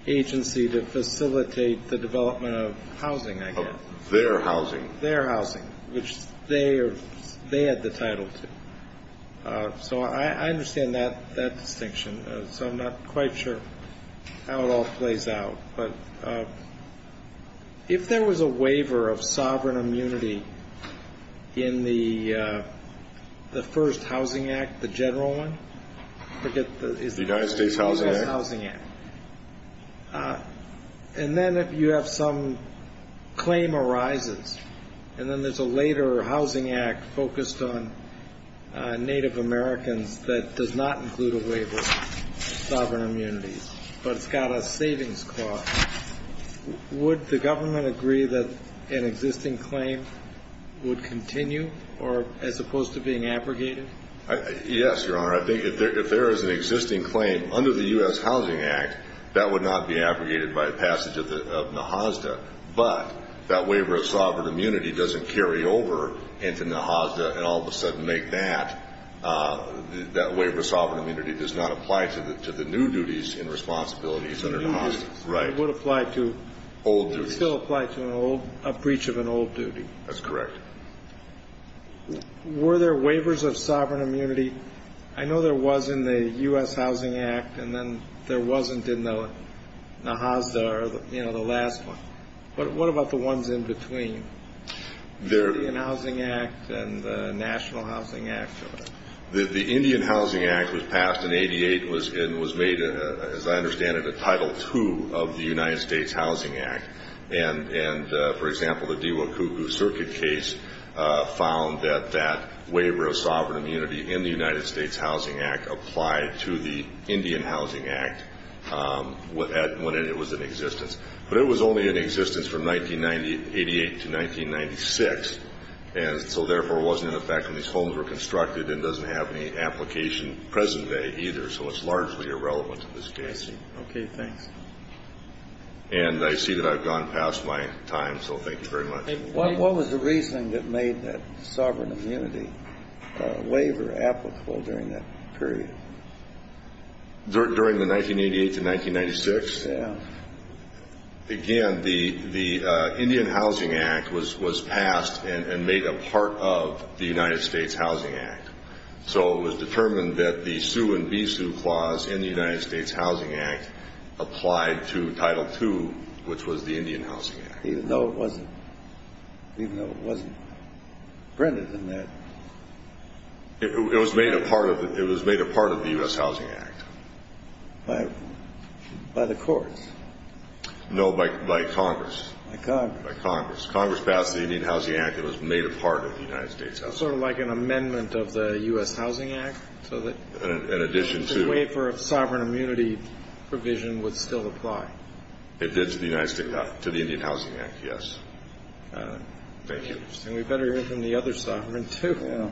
agency to facilitate the development of housing, I guess. Their housing. Their housing, which they had the title to. So I understand that distinction. So I'm not quite sure how it all plays out. But if there was a waiver of sovereign immunity in the first Housing Act, the general one... The United States Housing Act? The United States Housing Act. And then if you have some claim arises, and then there's a later Housing Act focused on Native Americans that does not include a waiver of sovereign immunity, but got a savings clause, would the government agree that an existing claim would continue as opposed to being abrogated? Yes, Your Honor. Your Honor, I think if there is an existing claim under the U.S. Housing Act, that would not be abrogated by passage of the HOSDA. But that waiver of sovereign immunity doesn't carry over into the HOSDA and all of a sudden make that. That waiver of sovereign immunity does not apply to the new duties and responsibilities under the HOSDA. It would apply to... Old duties. It would still apply to a breach of an old duty. That's correct. Were there waivers of sovereign immunity? I know there was in the U.S. Housing Act, and then there wasn't in the HOSDA or the last one. But what about the ones in between? The Indian Housing Act and the National Housing Act, Your Honor. The Indian Housing Act was passed in 88 and was made, as I understand it, a Title II of the United States Housing Act. And, for example, the Diwakuku Circuit case found that that waiver of sovereign immunity in the United States Housing Act applied to the Indian Housing Act when it was in existence. But it was only in existence from 1988 to 1996, and so therefore it wasn't in effect when these homes were constructed and doesn't have any application present-day either, so it's largely irrelevant in this case. Okay, thanks. And I see that I've gone past my time, so thank you very much. What was the reason that made that sovereign immunity waiver applicable during that period? During the 1988 to 1996? Yeah. Again, the Indian Housing Act was passed and made a part of the United States Housing Act. So it was determined that the sue and de-sue clause in the United States Housing Act applied to Title II, which was the Indian Housing Act. Even though it wasn't printed in there? It was made a part of the U.S. Housing Act. By the courts? No, by Congress. By Congress. Congress passed the Indian Housing Act. It was made a part of the United States Housing Act. So it was sort of like an amendment of the U.S. Housing Act? In addition to... So that the waiver of sovereign immunity provision would still apply? It did to the Indian Housing Act, yes. Thank you. And we better mention the other sovereign, too.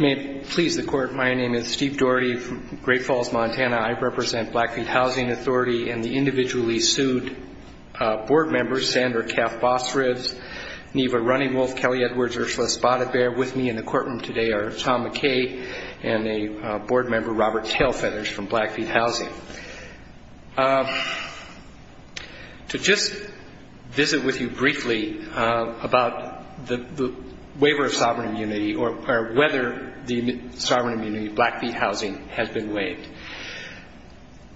May it please the Court, my name is Steve Doherty from Great Falls, Montana. I represent Blackfeet Housing Authority and the individually sued board members, Sandra Kapp-Fosfritz, Neva Runningwolf, Kelly Edwards, Ursula Spotted Bear. With me in the courtroom today are Tom McKay and a board member, Robert Tailfenders, from Blackfeet Housing. To just visit with you briefly about the waiver of sovereign immunity or whether the sovereign immunity of Blackfeet Housing has been waived.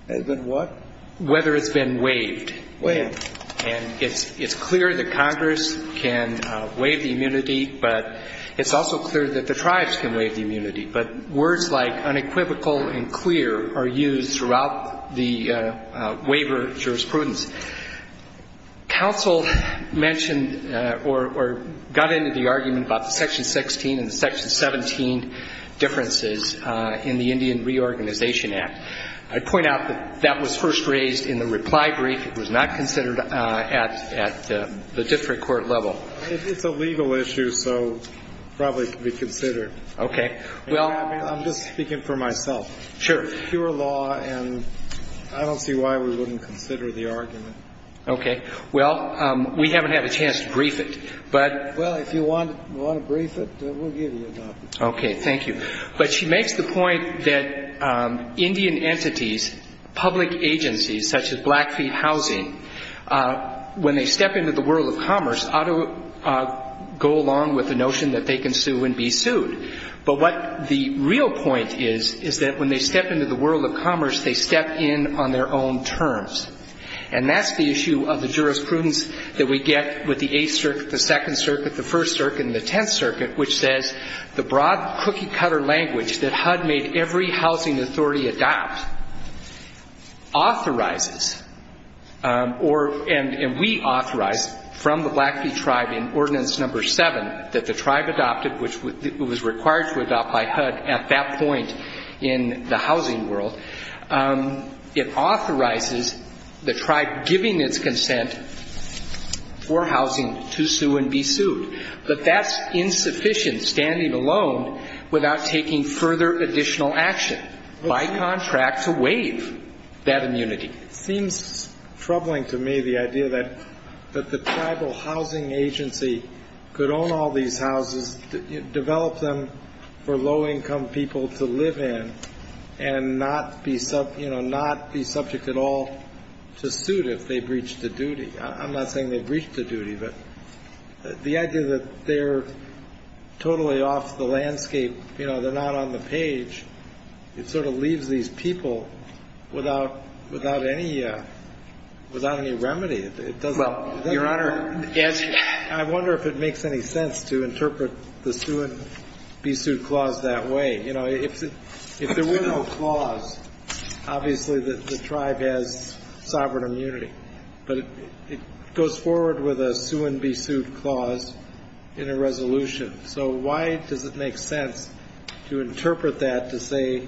Has been what? Whether it's been waived. Waived. And it's clear that Congress can waive the immunity, but it's also clear that the tribes can waive the immunity. But words like unequivocal and clear are used throughout the waiver jurisprudence. Counsel mentioned or got into the argument about Section 16 and Section 17 differences in the Indian Reorganization Act. I'd point out that that was first raised in the reply brief. It was not considered at the district court level. It's a legal issue, so it probably could be considered. Okay. I'm just speaking for myself. Sure. It's pure law, and I don't see why we wouldn't consider the argument. Okay. Well, we haven't had a chance to brief it. Well, if you want to brief it, we'll give you that. Okay. Thank you. But she makes the point that Indian entities, public agencies such as Blackfeet Housing, when they step into the world of commerce, ought to go along with the notion that they can sue and be sued. But what the real point is, is that when they step into the world of commerce, they step in on their own terms. And that's the issue of the jurisprudence that we get with the Eighth Circuit, the Second Circuit, the First Circuit, and the Tenth Circuit, which says the broad cookie-cutter language that HUD made every housing authority adopt authorizes, and we authorize, from the Blackfeet tribe in Ordinance No. 7, that the tribe adopted, which was required to adopt by HUD at that point in the housing world, it authorizes the tribe giving its consent for housing to sue and be sued. But that's insufficient, standing alone, without taking further additional action, by contract, to waive that immunity. It seems troubling to me, the idea that the Tribal Housing Agency could own all these houses, develop them for low-income people to live in, and not be subject at all to suit if they breach the duty. I'm not saying they breach the duty, but the idea that they're totally off the landscape, they're not on the page, it sort of leaves these people without any remedy. Your Honor, I wonder if it makes any sense to interpret the sue-and-be-sued clause that way. If there was no clause, obviously the tribe has sovereign immunity. But it goes forward with a sue-and-be-sued clause in a resolution. So why does it make sense to interpret that to say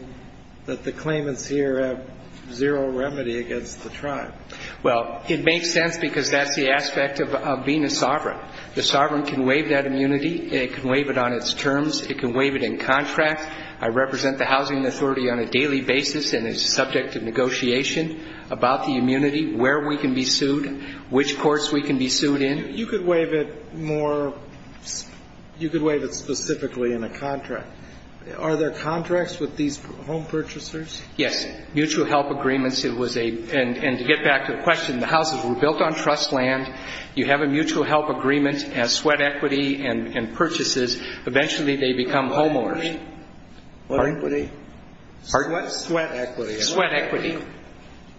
that the claimants here have zero remedy against the tribe? Well, it makes sense because that's the aspect of being a sovereign. The sovereign can waive that immunity, and it can waive it on its terms. It can waive it in contract. I represent the Housing Authority on a daily basis, and it's subject to negotiation about the immunity, where we can be sued, which courts we can be sued in. You could waive it specifically in a contract. Are there contracts with these home purchasers? Yes, mutual help agreements. And to get back to the question, the houses were built on trust land. You have a mutual help agreement as sweat equity and purchases. Eventually they become homeowners. Sweat equity? Pardon? Sweat equity. Sweat equity.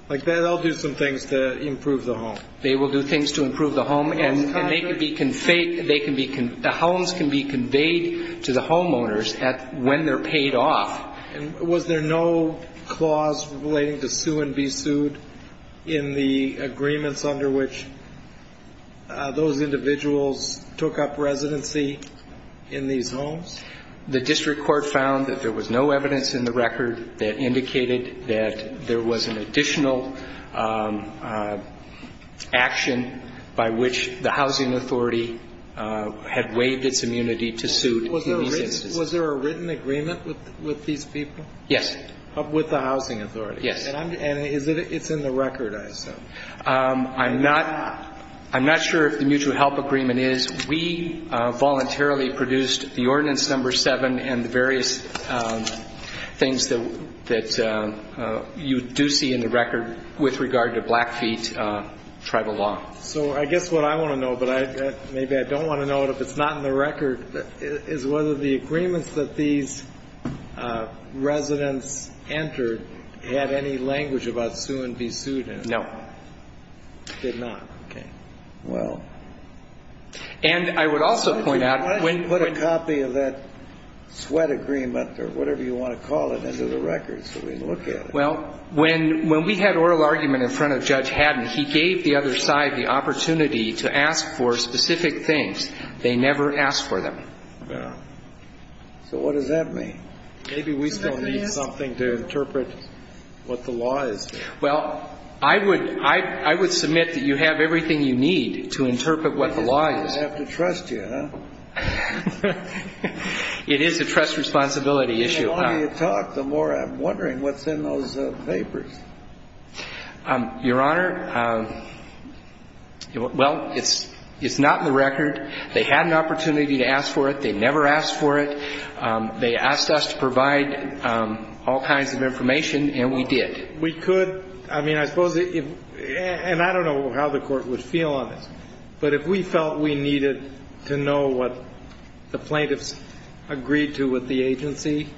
They'll do some things to improve the home. They will do things to improve the home, and the homes can be conveyed to the homeowners when they're paid off. Was there no clause relating to sue and be sued in the agreements under which those individuals took up residency in these homes? The district court found that there was no evidence in the record that indicated that there was an additional action by which the Housing Authority had waived its immunity to sue. Was there a written agreement with these people? Yes. With the Housing Authority? Yes. And it's in the record, I assume. I'm not sure if the mutual help agreement is. We voluntarily produced the ordinance number seven and the various things that you do see in the record with regard to Blackfeet tribal law. So I guess what I want to know, but maybe I don't want to know it if it's not in the record, is whether the agreements that these residents entered had any language about sue and be sued in it. No. Did not. Okay. Well. And I would also point out. Why didn't you put a copy of that sweat agreement or whatever you want to call it into the record so we can look at it? Well, when we had oral argument in front of Judge Haddon, he gave the other side the opportunity to ask for specific things. They never asked for them. Well. So what does that mean? Maybe we don't need something to interpret what the law is. Well, I would submit that you have everything you need to interpret what the law is. I have to trust you, huh? It is a trust responsibility issue. The more you talk, the more I'm wondering what's in those papers. Your Honor, well, it's not in the record. They had an opportunity to ask for it. They never asked for it. They asked us to provide all kinds of information, and we did. We could, I mean, I suppose, and I don't know how the court would feel on it, but if we felt we needed to know what the plaintiffs agreed to with the agency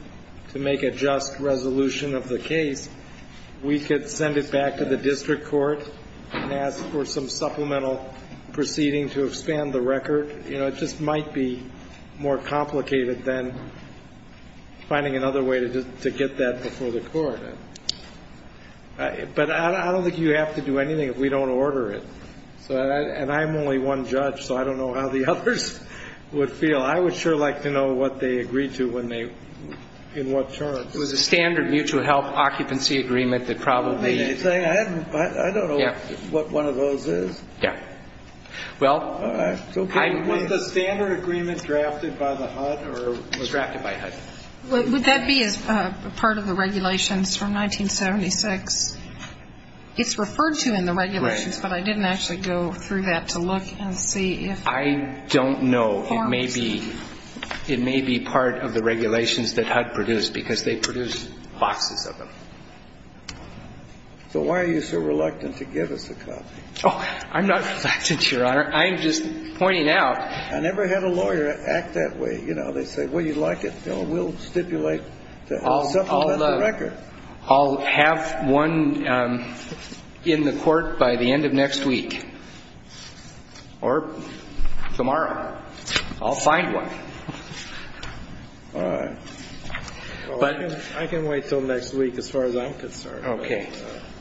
to make a just resolution of the case, we could send it back to the district court and ask for some supplemental proceeding to expand the record. It just might be more complicated than finding another way to get that before the court. But I don't think you have to do anything if we don't order it. And I'm only one judge, so I don't know how the others would feel. I would sure like to know what they agreed to when they, in what terms. It was a standard mutual help occupancy agreement that probably. I don't know what one of those is. Well. Was the standard agreement drafted by the HUD or? It was drafted by HUD. Would that be part of the regulations from 1976? It's referred to in the regulations, but I didn't actually go through that to look and see if. I don't know. It may be part of the regulations that HUD produced because they produced lots of them. So why are you so reluctant to give us a copy? Oh, I'm not reluctant, Your Honor. I'm just pointing out. I never had a lawyer act that way. You know, they said, well, you like it. We'll stipulate. I'll have one in the court by the end of next week. Or tomorrow. I'll find one. All right. I can wait until next week as far as I'm concerned. Okay.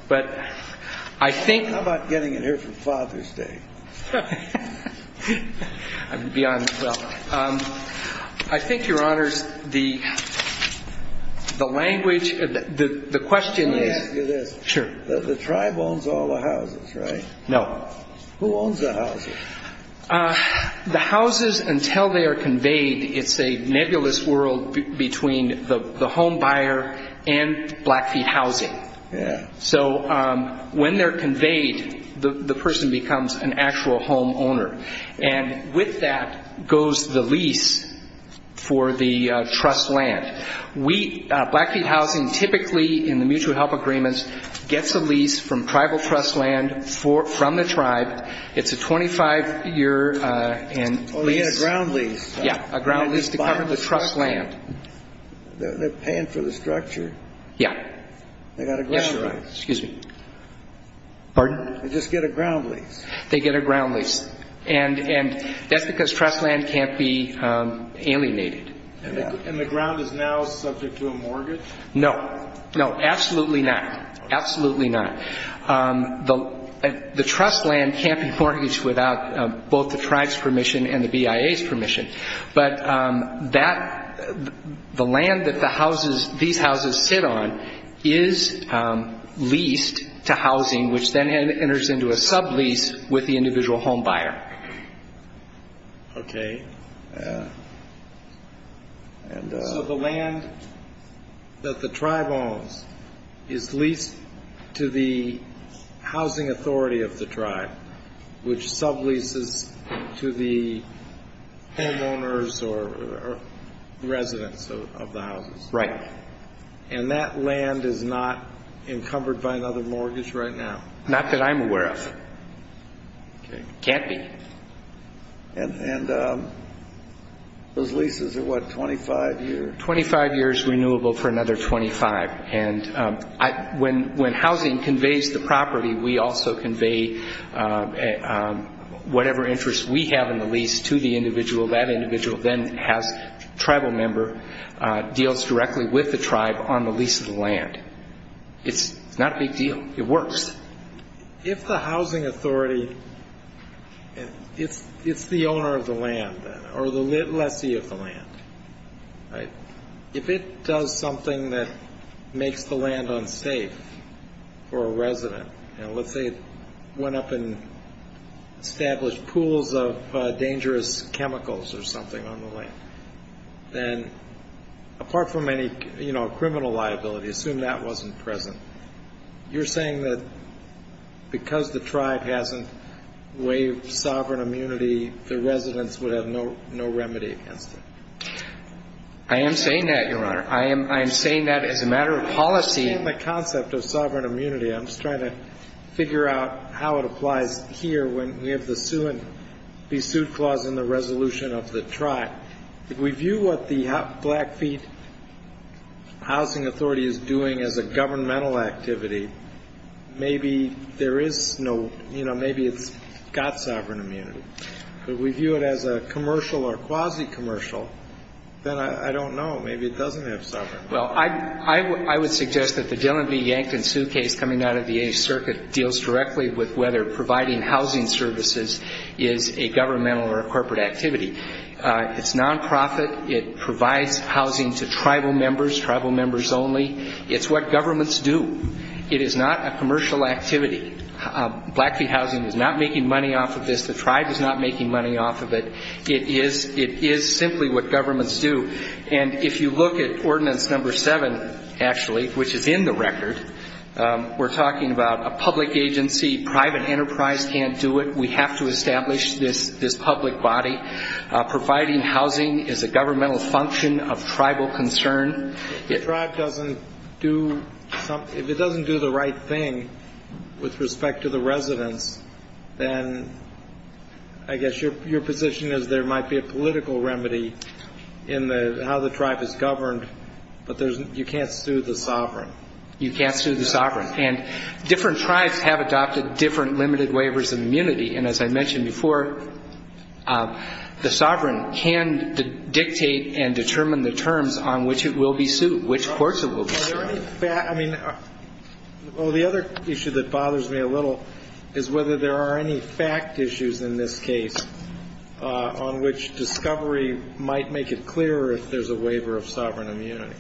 How about getting it here for Father's Day? I'm beyond thrilled. I think, Your Honors, the language, the question is. Let me ask you this. Sure. The tribe owns all the houses, right? No. Who owns the houses? The houses, until they are conveyed, it's a nebulous world between the home buyer and Blackfeet Housing. Yeah. So when they're conveyed, the person becomes an actual home owner. And with that goes the lease for the trust land. Blackfeet Housing typically, in the mutual help agreements, gets a lease from tribal trust land from the tribe. It's a 25-year lease. A ground lease. Yeah, a ground lease to cover the trust land. They're paying for the structure. Yeah. They got a ground lease. Excuse me. Pardon? They just get a ground lease. They get a ground lease. And that's because trust land can't be alienated. And the ground is now subject to a mortgage? No. No, absolutely not. Absolutely not. But the land that these houses hit on is leased to housing, which then enters into a sublease with the individual home buyer. Okay. So the land that the tribe owns is leased to the housing authority of the tribe, which subleases to the homeowners or residents of the houses. Right. And that land is not encumbered by another mortgage right now? Not that I'm aware of. It can't be. And those leases are, what, 25 years? Twenty-five years renewable for another 25. And when housing conveys the property, we also convey whatever interest we have in the lease to the individual. That individual then has a tribal member, deals directly with the tribe on the lease of the land. It's not a big deal. It works. If the housing authority, if it's the owner of the land or the lessee of the land, if it does something that makes the land unsafe for a resident, and let's say it went up and established pools of dangerous chemicals or something on the land, then apart from any, you know, criminal liability, assume that wasn't present, you're saying that because the tribe hasn't waived sovereign immunity, the residents would have no remedy against it? I am saying that, Your Honor. I am saying that as a matter of policy. That's not the concept of sovereign immunity. I'm just trying to figure out how it applies here when we have the sue clause in the resolution of the tribe. If we view what the Blackfeet Housing Authority is doing as a governmental activity, maybe there is no, you know, maybe it's got sovereign immunity. But if we view it as a commercial or quasi-commercial, then I don't know. Well, I would suggest that the Dylan V. Yankin suitcase coming out of the Eighth Circuit deals directly with whether providing housing services is a governmental or a corporate activity. It's nonprofit. It provides housing to tribal members, tribal members only. It's what governments do. It is not a commercial activity. Blackfeet Housing is not making money off of this. The tribe is not making money off of it. It is simply what governments do. And if you look at Ordinance No. 7, actually, which is in the record, we're talking about a public agency. Private enterprise can't do it. We have to establish this public body. Providing housing is a governmental function of tribal concern. If the tribe doesn't do something, if it doesn't do the right thing with respect to the residents, then I guess your position is there might be a political remedy in how the tribe is governed, but you can't sue the sovereign. You can't sue the sovereign. And different tribes have adopted different limited waivers of immunity. And as I mentioned before, the sovereign can dictate and determine the terms on which it will be sued, which courts it will be sued. The other issue that bothers me a little is whether there are any fact issues in this case on which discovery might make it clearer if there's a waiver of sovereign immunity.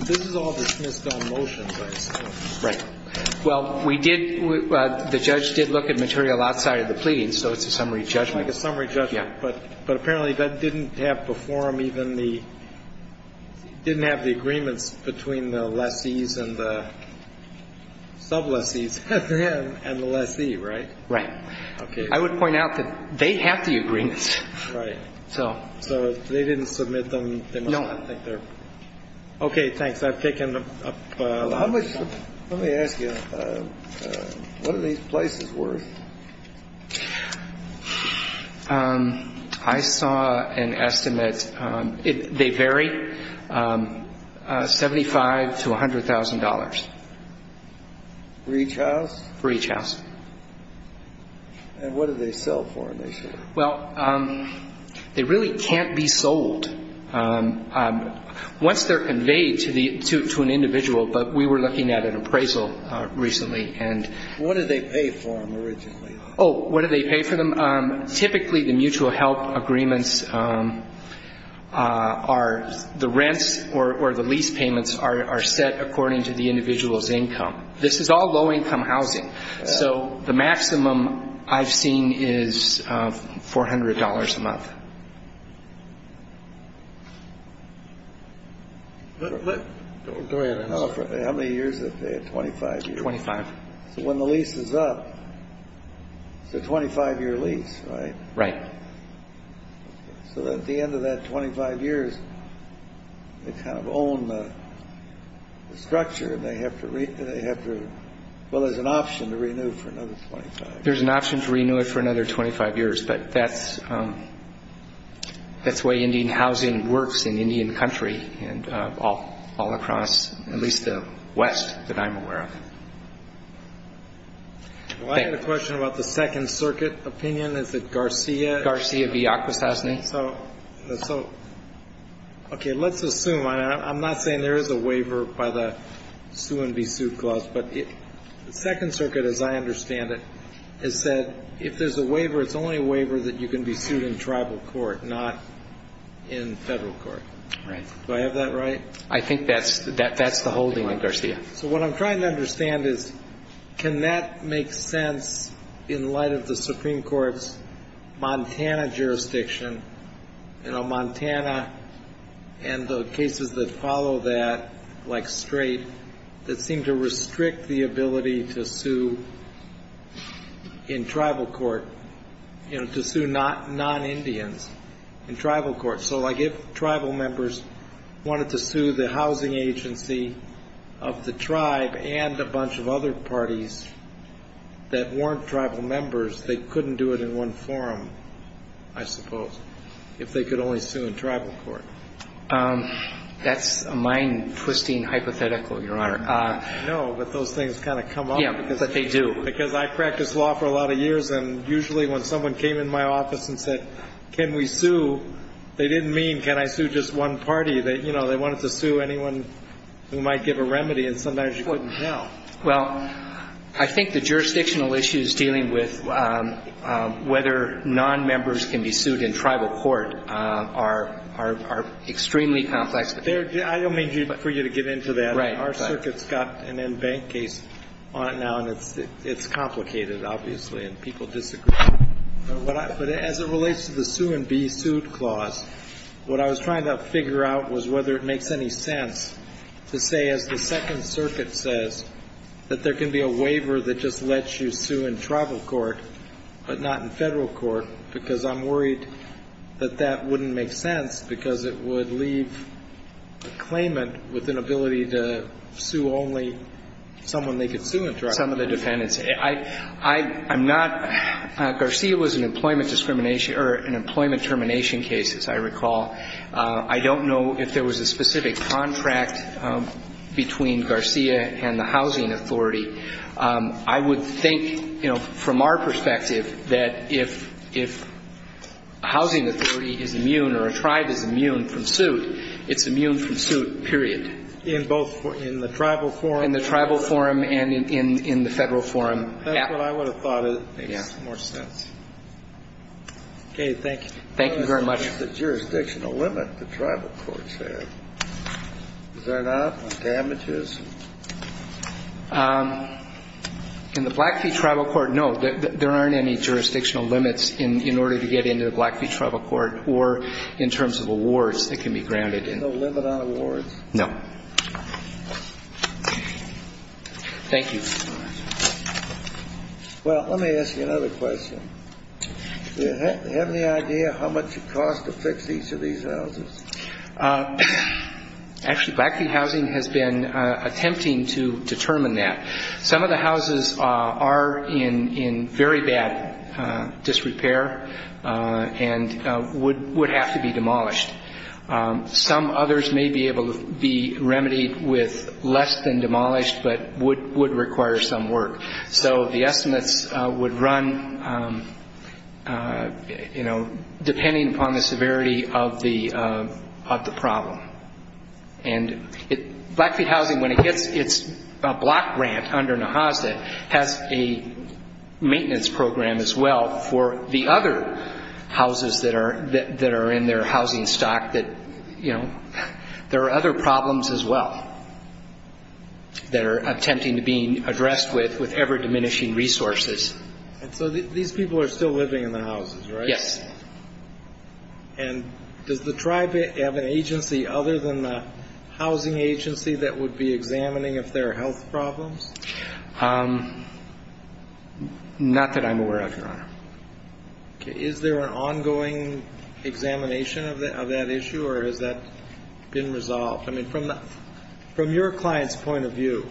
This is all dismissed on motion. Right. Well, the judge did look at material outside of the plea, so it's a summary judgment. It's a summary judgment, but apparently that didn't have the form, even didn't have the agreement between the lessees and the sublessees and the lessee, right? Right. I would point out that they have the agreement. Right. So they didn't submit them? No. Okay, thanks. Let me ask you, what are these places worth? I saw an estimate. They vary, $75,000 to $100,000. For each house? For each house. And what do they sell for in this case? Well, they really can't be sold. Once they're conveyed to an individual, but we were looking at an appraisal recently. What do they pay for them originally? Oh, what do they pay for them? Typically the mutual help agreements are the rent or the lease payments are set according to the individual's income. This is all low-income housing, so the maximum I've seen is $400 a month. How many years is that, 25 years? Twenty-five. So when the lease is up, it's a 25-year lease, right? Right. So at the end of that 25 years, they kind of own the structure and they have to, well, there's an option to renew it for another 25 years. There's an option to renew it for another 25 years, but that's, you know, that's the way Indian housing works in Indian country and all across at least the West that I'm aware of. Well, I have a question about the Second Circuit opinion. Is it Garcia? Garcia de Acosta, I think. Okay, let's assume. I'm not saying there is a waiver by the sue-and-be-sued clause, but the Second Circuit, as I understand it, has said if there's a waiver, it's only a waiver that you can be sued in tribal court, not in federal court. Right. Do I have that right? I think that's the whole point, Garcia. So what I'm trying to understand is can that make sense in light of the Supreme Court's Montana jurisdiction? You know, Montana and the cases that follow that, like Strait, that seem to restrict the ability to sue in tribal court, you know, to sue non-Indians in tribal court. So like if tribal members wanted to sue the housing agency of the tribe and a bunch of other parties that weren't tribal members, they couldn't do it in one forum, I suppose, if they could only sue in tribal court. That's a mind-twisting hypothetical, Your Honor. I know, but those things kind of come up. Yeah, but they do. Because I practiced law for a lot of years, and usually when someone came in my office and said, can we sue, they didn't mean can I sue just one party. You know, they wanted to sue anyone who might give a remedy, and sometimes you couldn't tell. Well, I think the jurisdictional issues dealing with whether non-members can be sued in tribal court are extremely complex. I don't mean for you to get into that. Our circuit's got an in-bank case on it now that's complicated, obviously, and people disagree. But as it relates to the Sue and Be Sued Clause, what I was trying to figure out was whether it makes any sense to say, as the Second Circuit says, that there can be a waiver that just lets you sue in tribal court but not in federal court, because I'm worried that that wouldn't make sense because it would leave the claimant with an ability to sue only someone they could sue in tribal court. Some of the dependents. I'm not – Garcia was an employment termination case, as I recall. I don't know if there was a specific contract between Garcia and the housing authority. I would think, you know, from our perspective, that if a housing authority is immune or a tribe is immune from suit, it's immune from suit, period. In both – in the tribal forum? In the tribal forum and in the federal forum. That's what I would have thought is. Yeah. Okay, thank you. Thank you very much. What about the jurisdictional limit the tribal courts have? Is that out? Damages? In the Blackfeet Tribal Court, no. There aren't any jurisdictional limits in order to get into the Blackfeet Tribal Court or in terms of awards that can be granted. There's no limit on awards? No. Thank you. Well, let me ask you another question. Do you have any idea how much it costs to fix each of these houses? Actually, Blackfeet Housing has been attempting to determine that. Some of the houses are in very bad disrepair and would have to be demolished. Some others may be able to be remedied with less than demolished, but would require some work. So the estimate would run, you know, depending upon the severity of the problem. And Blackfeet Housing, when it gets its block grant under NAHASA, has a maintenance program as well for the other houses that are in their housing stock that, you know, there are other problems as well that are attempting to be addressed with ever-diminishing resources. So these people are still living in the houses, right? Yes. And does the tribe have an agency other than the housing agency that would be examining if there are health problems? Not that I'm aware of, no. Is there an ongoing examination of that issue, or has that been resolved? I mean, from your client's point of view,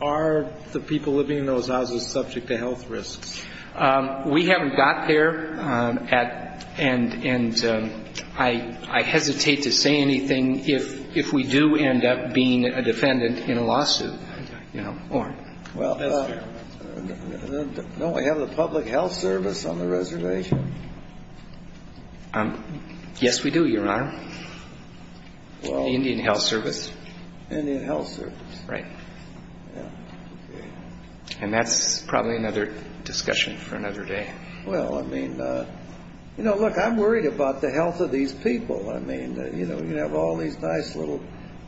are the people living in those houses subject to health risks? We haven't got there, and I hesitate to say anything if we do end up being a defendant in a lawsuit, you know. Well, don't we have a public health service on the reservation? Yes, we do, Your Honor. Indian Health Service. Indian Health Service. Right. And that's probably another discussion for another day. Well, I mean, you know, look, I'm worried about the health of these people. I mean, you know, you have all these nice little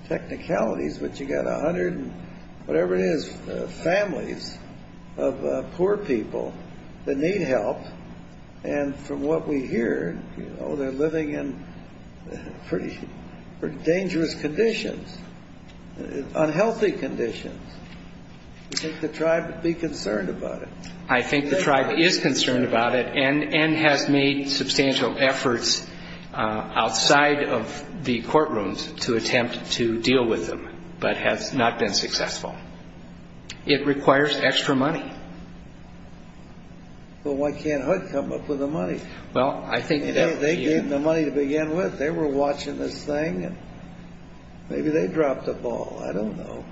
technicalities, but you've got 100, whatever it is, families of poor people that need help, and from what we hear, you know, they're living in pretty dangerous conditions, unhealthy conditions. I think the tribe would be concerned about it. I think the tribe is concerned about it and has made substantial efforts outside of the courtrooms to attempt to deal with them, but has not been successful. It requires extra money. Well, why can't HUD come up with the money? Well, I think that... They gave them the money to begin with. They were watching this thing. Maybe they dropped the ball. I don't know.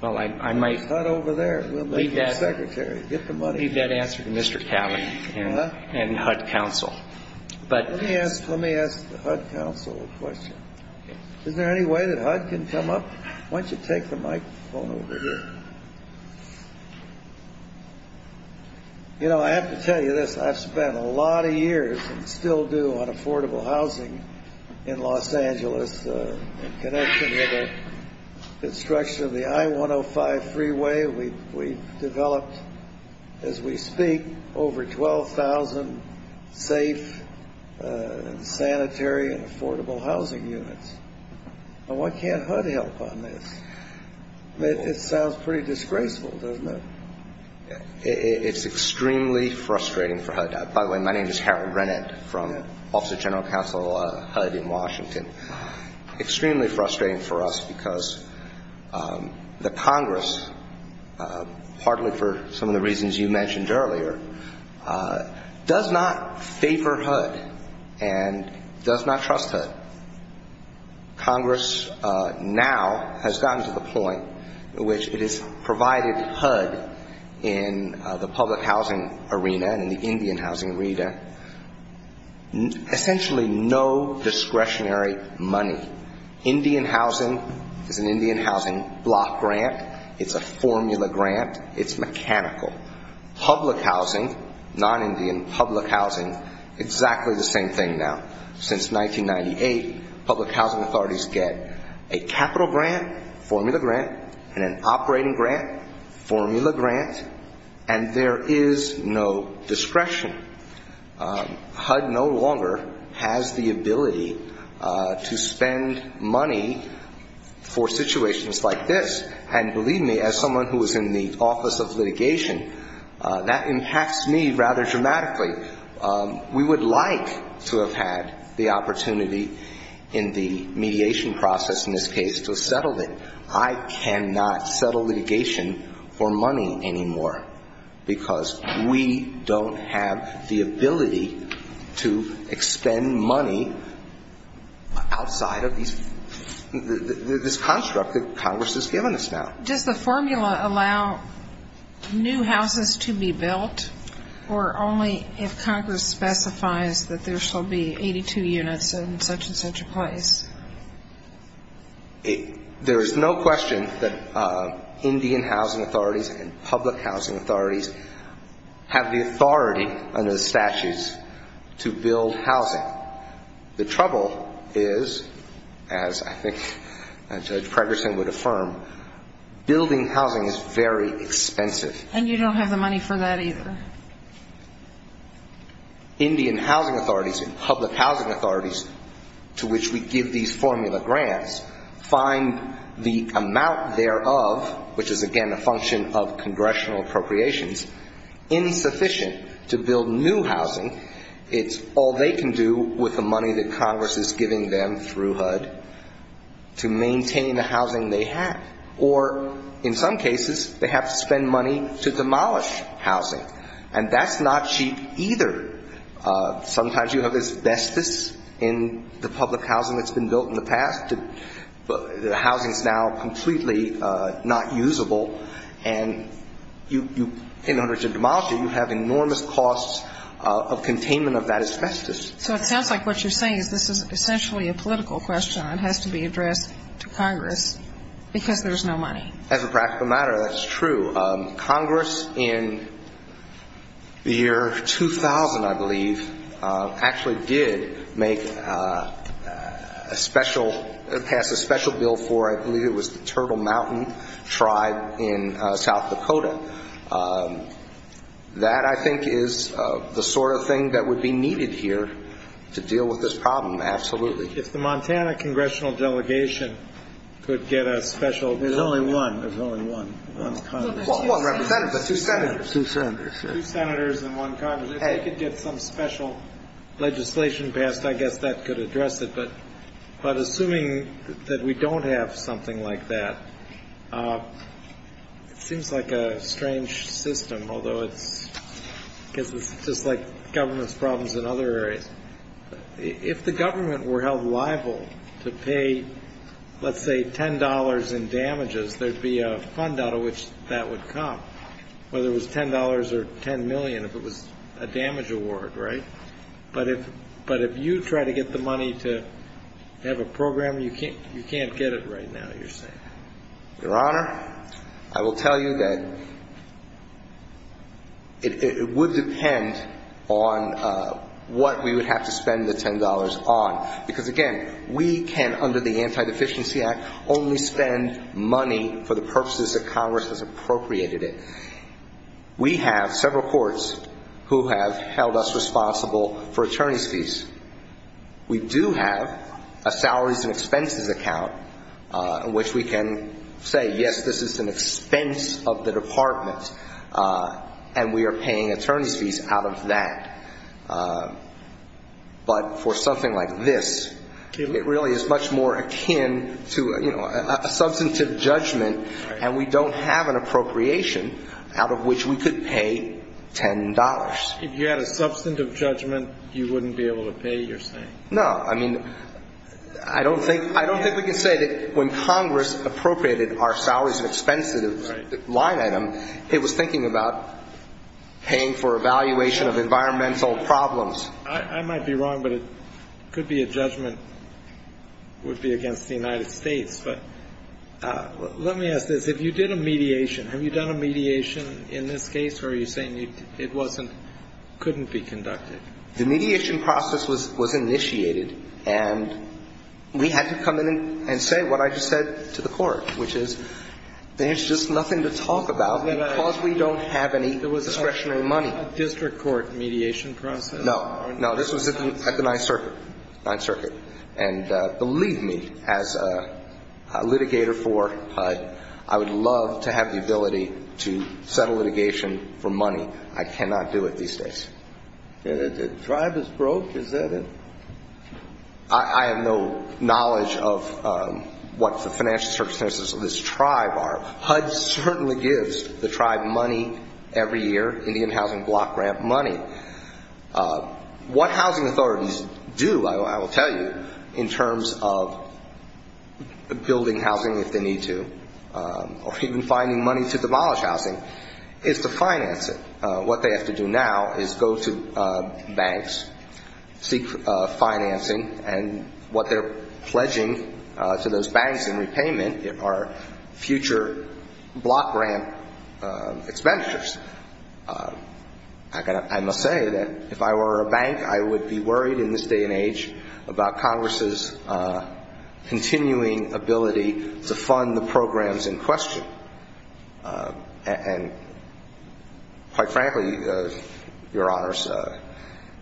HUD over there. Secretary, get the money. Leave that answer to Mr. Cownie and HUD counsel. Let me ask the HUD counsel a question. Is there any way that HUD can come up? Why don't you take the microphone over here? You know, I have to tell you this. I've spent a lot of years, and still do, on affordable housing in Los Angeles. In connection with the construction of the I-105 freeway, we've developed, as we speak, over 12,000 safe, sanitary, and affordable housing units. Why can't HUD help on this? It sounds pretty disgraceful, doesn't it? It's extremely frustrating for HUD. By the way, my name is Harold Rennett from Office of General Counsel HUD in Washington. Extremely frustrating for us because the Congress, partly for some of the reasons you mentioned earlier, does not favor HUD and does not trust HUD. Congress now has gotten to the point in which it has provided HUD in the public housing arena, in the Indian housing arena, essentially no discretionary money. Indian housing is an Indian housing block grant. It's a formula grant. It's mechanical. Public housing, non-Indian public housing, exactly the same thing now. Since 1998, public housing authorities get a capital grant, formula grant, and an operating grant, formula grant, and there is no discretion. HUD no longer has the ability to spend money for situations like this. And believe me, as someone who is in the Office of Litigation, that impacts me rather dramatically. We would like to have had the opportunity in the mediation process, in this case, to have settled it. I cannot settle litigation for money anymore because we don't have the ability to expend money outside of this construct that Congress has given us now. Does the formula allow new houses to be built or only if Congress specifies that there shall be 82 units in such and such a place? There is no question that Indian housing authorities and public housing authorities have the authority under the statutes to build housing. The trouble is, as I think Judge Cragerson would affirm, building housing is very expensive. And you don't have the money for that either. Indian housing authorities and public housing authorities to which we give these formula grants find the amount thereof, which is, again, a function of congressional appropriations, insufficient to build new housing. It's all they can do with the money that Congress is giving them through HUD to maintain the housing they have. Or, in some cases, they have to spend money to demolish housing. And that's not cheap either. Sometimes you have asbestos in the public housing that's been built in the past. The housing is now completely not usable. And in order to demolish it, you have enormous costs of containment of that asbestos. So it sounds like what you're saying is this is essentially a political question that has to be addressed to Congress because there's no money. As a practical matter, that's true. Congress in the year 2000, I believe, actually did pass a special bill for, I believe it was the Turtle Mountain tribe in South Dakota. That, I think, is the sort of thing that would be needed here to deal with this problem, absolutely. If the Montana congressional delegation could get a special- There's only one. There's only one. There's one representative, but two senators. Two senators. Two senators and one congressman. If they could get some special legislation passed, I guess that could address it. But assuming that we don't have something like that, it seems like a strange system, although it's just like government problems in other areas. If the government were held liable to pay, let's say, $10 in damages, there'd be a fund out of which that would come, whether it was $10 or $10 million if it was a damage award, right? But if you try to get the money to have a program, you can't get it right now, you're saying. Your Honor, I will tell you that it would depend on what we would have to spend the $10 on. Because, again, we can, under the Anti-Deficiency Act, only spend money for the purposes that Congress has appropriated it. We have several courts who have held us responsible for attorney's fees. We do have a salaries and expenses account in which we can say, yes, this is an expense of the department, and we are paying attorney's fees out of that. But for something like this, it really is much more akin to a substantive judgment, and we don't have an appropriation out of which we could pay $10. If you had a substantive judgment, you wouldn't be able to pay, you're saying? No. I mean, I don't think we can say that when Congress appropriated our salaries and expenses line item, it was thinking about paying for evaluation of environmental problems. I might be wrong, but it could be a judgment against the United States. Let me ask this. If you did a mediation, have you done a mediation in this case, or are you saying it couldn't be conducted? The mediation process was initiated, and we had to come in and say what I just said to the court, which is, there's just nothing to talk about because we don't have any discretionary money. A district court mediation process? No. No, this was at the 9th Circuit. And believe me, as a litigator for HUD, I would love to have the ability to settle litigation for money. I cannot do it these days. The tribe is broke, is that it? I have no knowledge of what the financial circumstances of this tribe are. HUD certainly gives the tribe money every year, Indian Housing Block Grant money. What housing authorities do, I will tell you, in terms of building housing if they need to, or even finding money to demolish housing, is to finance it. What they have to do now is go to banks, seek financing, and what they're pledging to those banks in repayment are future block grant expenditures. I must say that if I were a bank, I would be worried in this day and age about Congress's continuing ability to fund the programs in question. And quite frankly, Your Honors,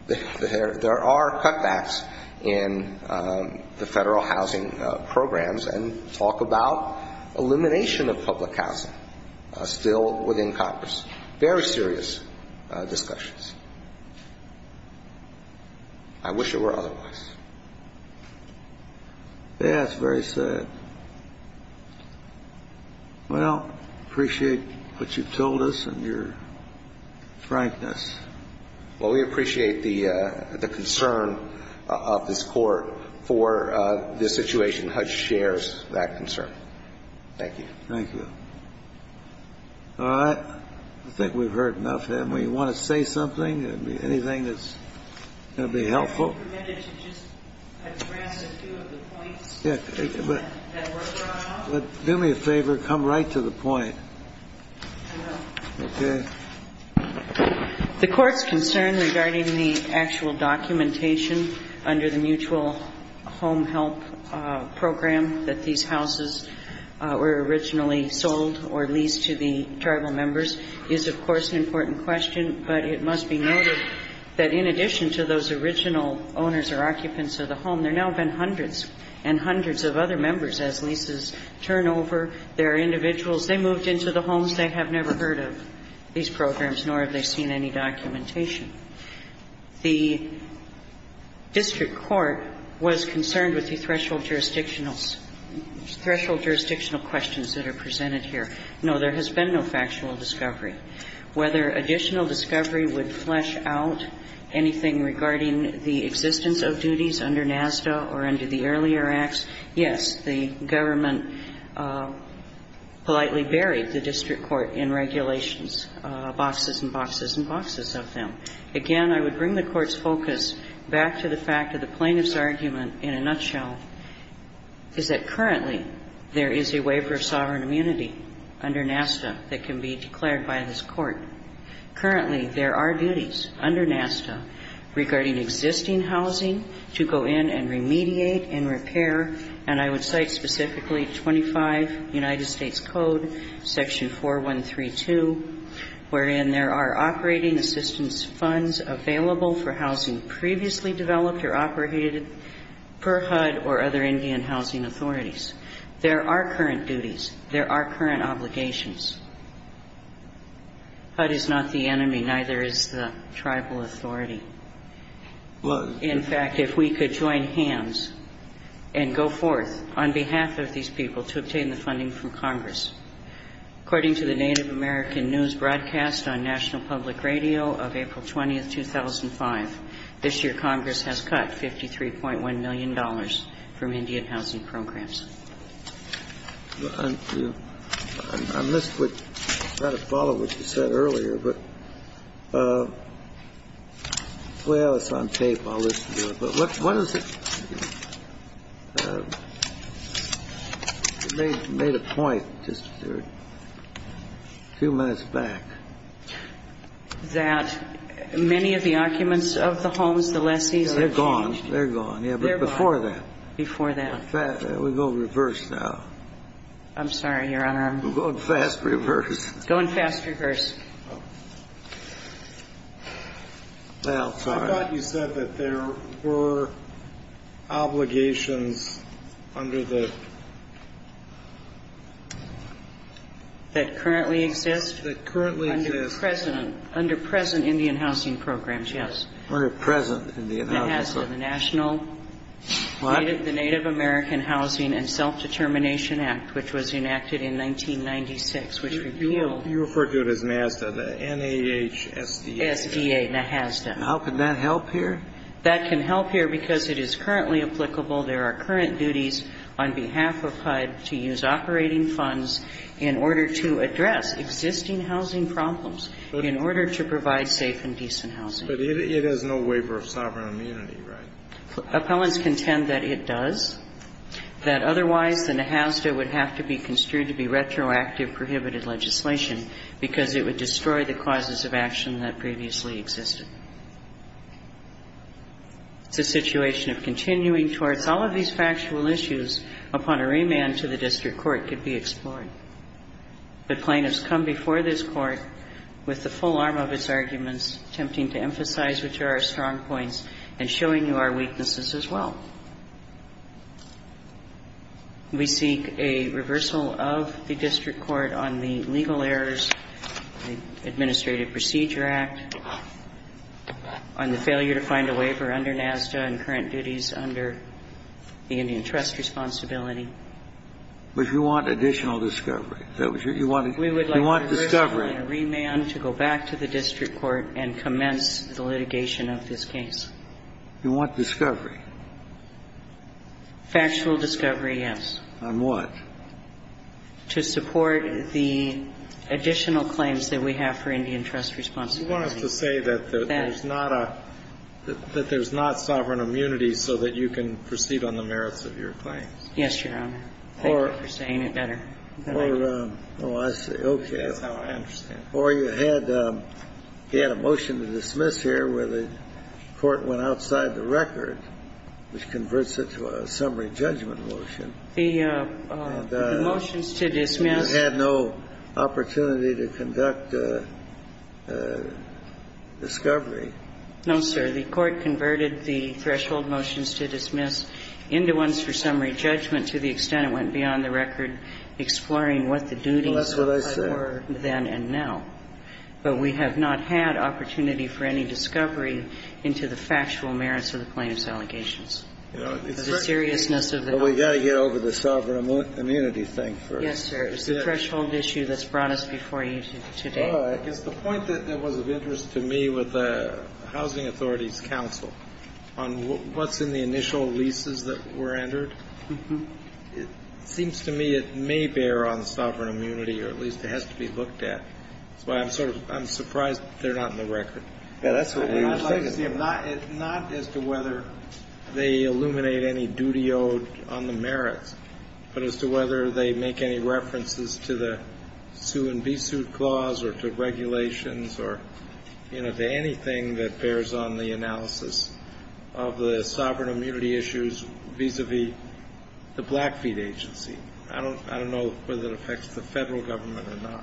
there are cutbacks in the federal housing programs, and talk about elimination of public housing still within Congress. Very serious discussions. I wish it were otherwise. That's very sad. Well, I appreciate what you've told us and your frankness. Well, we appreciate the concern of this court for this situation. HUD shares that concern. Thank you. Thank you. All right. I think we've heard enough, haven't we? You want to say something? Anything that's going to be helpful? I just wanted to address a few of the points that were brought up. Do me a favor. Come right to the point. The court's concern regarding the actual documentation under the mutual home help program that these houses were originally sold or leased to the tribal members is, of course, an important question. But it must be noted that in addition to those original owners or occupants of the home, there have now been hundreds and hundreds of other members as leases turn over their individuals. They moved into the homes. They have never heard of these programs, nor have they seen any documentation. The district court was concerned with the threshold jurisdictional questions that are presented here. No, there has been no factual discovery. Whether additional discovery would flesh out anything regarding the existence of duties under NASDA or under the earlier acts, yes, the government politely buried the district court in regulations, boxes and boxes and boxes of them. Again, I would bring the court's focus back to the fact that the plaintiff's argument in a nutshell is that currently there is a waiver of sovereign immunity under NASDA that can be declared by this court. Currently, there are duties under NASDA regarding existing housing to go in and remediate and repair, and I would cite specifically 25 United States Code section 4132, wherein there are operating assistance funds available for housing previously developed or operated per HUD or other Indian housing authorities. There are current duties. There are current obligations. HUD is not the enemy, neither is the tribal authority. In fact, if we could join hands and go forth on behalf of these people to obtain the funding from Congress, according to the Native American News broadcast on National Public Radio of April 20, 2005, this year Congress has cut $53.1 million from Indian housing programs. I missed what you said earlier. Well, it's on tape. I'll listen to it. They made a point just a few minutes back. That many of the occupants of the homes, the lessees... They're gone. They're gone. Before that. Before that. We're going reverse now. I'm sorry, Your Honor. We're going fast reverse. Going fast reverse. I thought you said that there were obligations under the... That currently exist? That currently exist. Under present Indian housing programs, yes. Under present Indian housing programs. What? The Native American Housing and Self-Determination Act, which was enacted in 1996, which revealed... You referred to it as NASDA, the N-A-H-S-D-A. S-D-A, NASDA. How can that help here? That can help here because it is currently applicable. There are current duties on behalf of HUD to use operating funds in order to address existing housing problems in order to provide safe and decent housing. But it has no waiver of sovereign immunity, right? Appellants contend that it does, that otherwise the NASDA would have to be construed to be retroactive prohibited legislation because it would destroy the causes of action that previously existed. The situation of continuing towards all of these factual issues upon a remand to the district court could be explored. The claim has come before this court with the full arm of its arguments, attempting to emphasize which are our strong points and showing you our weaknesses as well. We seek a reversal of the district court on the Legal Errors Administrative Procedure Act, on the failure to find a waiver under NASDA and current duties under the Indian Trust Responsibility. But you want additional discovery? You want discovery? We would like to reverse a remand to go back to the district court and commence the litigation of this case. You want discovery? Factual discovery, yes. On what? To support the additional claims that we have for Indian Trust Responsibility. You want us to say that there's not sovereign immunity so that you can proceed on the merits of your claim? Yes, Your Honor. Thank you for saying it better. Oh, I see. Okay. Oh, I understand. Or you had a motion to dismiss here where the court went outside the record, which converts it to a summary judgment motion. The motions to dismiss... And you had no opportunity to conduct discovery. No, sir. The court converted the threshold motions to dismiss into ones for summary judgment to the extent it went beyond the record, exploring what the duties... That's what I said. ...then and now. But we have not had opportunity for any discovery into the factual merits of the plaintiff's allegations. The seriousness of the... Well, we've got to get over the sovereign immunity thing first. Yes, sir. It's the threshold issue that's brought us before you today. It's the point that was of interest to me with the Housing Authority's counsel on what's in the initial leases that were entered. It seems to me it may bear on the sovereign immunity, or at least it has to be looked at. I'm surprised they're not in the record. It's not as to whether they illuminate any duty owed on the merit, but as to whether they make any references to the sue-and-be-sued clause or to regulations or, you know, to anything that bears on the analysis of the sovereign immunity issues vis-à-vis the Blackfeet agency. I don't know whether it affects the federal government or not.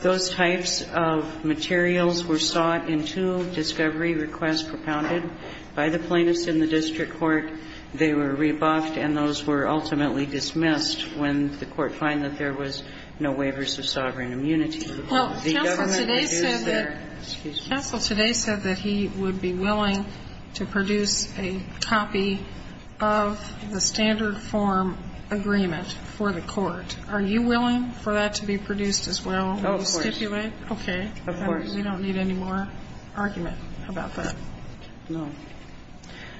Those types of materials were sought in two discovery requests propounded by the plaintiffs in the district court. They were rebuffed, and those were ultimately dismissed when the court found that there was no waivers of sovereign immunity. Well, counsel today said that he would be willing to produce a copy of the standard form agreement for the court. Are you willing for that to be produced as well? Oh, of course. Okay. Of course. We don't need any more argument about that. No.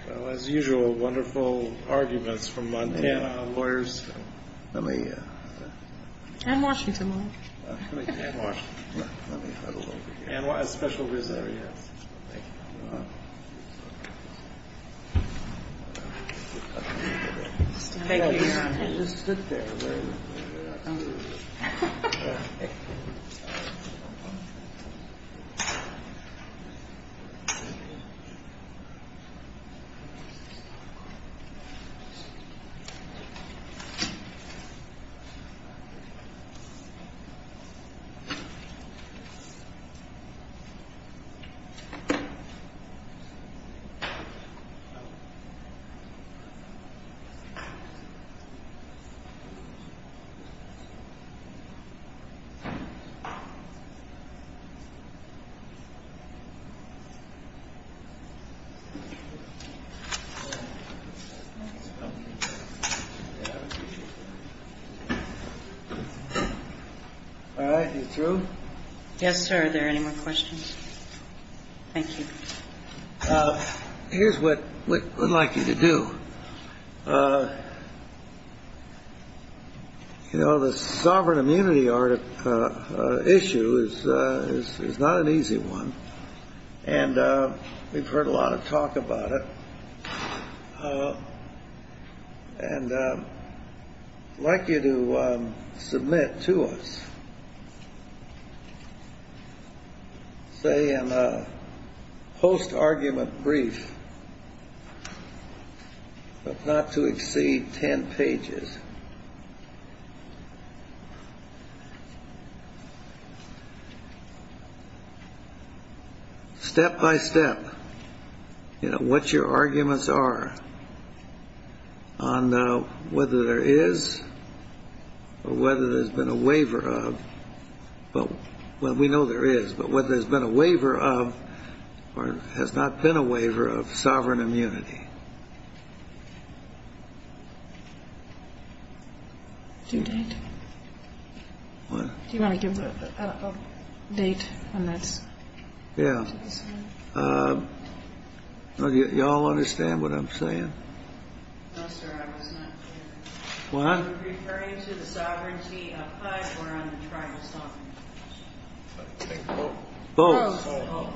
Well, as usual, wonderful arguments from my lawyers. And Washington. And Washington. And a special visit. Thank you. Thank you. Thank you. All right. You're through? Yes, sir. Are there any more questions? Thank you. Here's what we'd like you to do. You know, the sovereign immunity issue is not an easy one, and we've heard a lot of talk about it. And I'd like you to submit to us, say, a post-argument brief, but not to exceed ten pages. Step-by-step, you know, what your arguments are on whether there is or whether there's been a waiver of – well, we know there is – but whether there's been a waiver of or has not been a waiver of sovereign immunity. Do you want to give a date on that? Yeah. You all understand what I'm saying? No, sir. I don't understand. What? Are you referring to the sovereign key or am I trying to stop you? Both. Both. Both.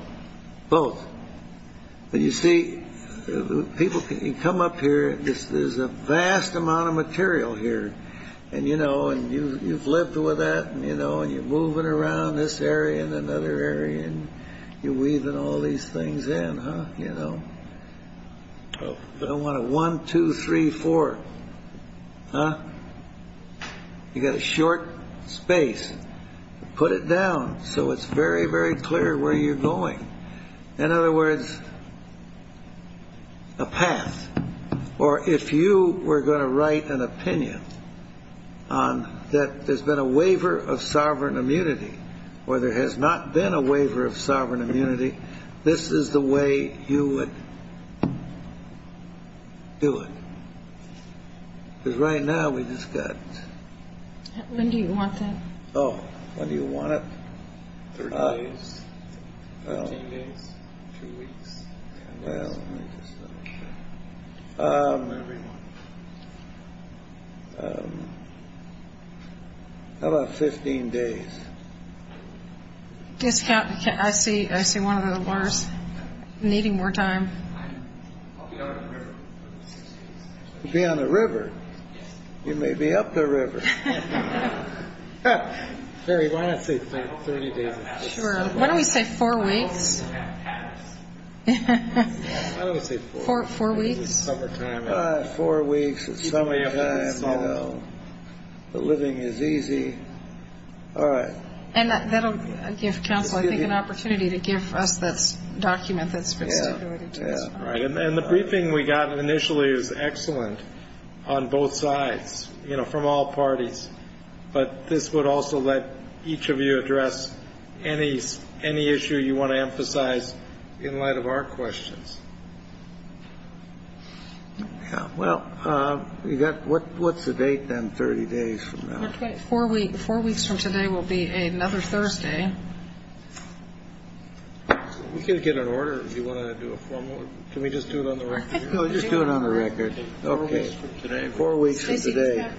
Both. You see, people can come up here. There's a vast amount of material here. And, you know, you've lived with that, and, you know, you're moving around this area and another area, and you're weaving all these things in, huh? You know. I want a one, two, three, four. Huh? You've got a short space. Put it down so it's very, very clear where you're going. In other words, a path. Or if you were going to write an opinion that there's been a waiver of sovereign immunity or there has not been a waiver of sovereign immunity, this is the way you would do it. Because right now we've just got to – When do you want that? Oh, when do you want it? I don't know. I don't know. I don't know. How about 15 days? Yes, Captain. I see one of the letters. I'm needing more time. You'll be on the river. You may be up the river. At the very last, it's been 30 days. Sure. Why don't we say four weeks? I would say four weeks. Four weeks. Four weeks is plenty of time, you know. The living is easy. All right. And that will give Council, I think, an opportunity to give us a document that's ready to go. Yeah, right. And the briefing we got initially was excellent on both sides, you know, from all parties. But this would also let each of you address any issue you want to emphasize in light of our questions. Okay. Well, what's the date then, 30 days from now? Okay. Four weeks from today will be another Thursday. We can get an order if you want to do a formal. Can we just do it on the record? No, just do it on the record. Four weeks from today. Four weeks from today.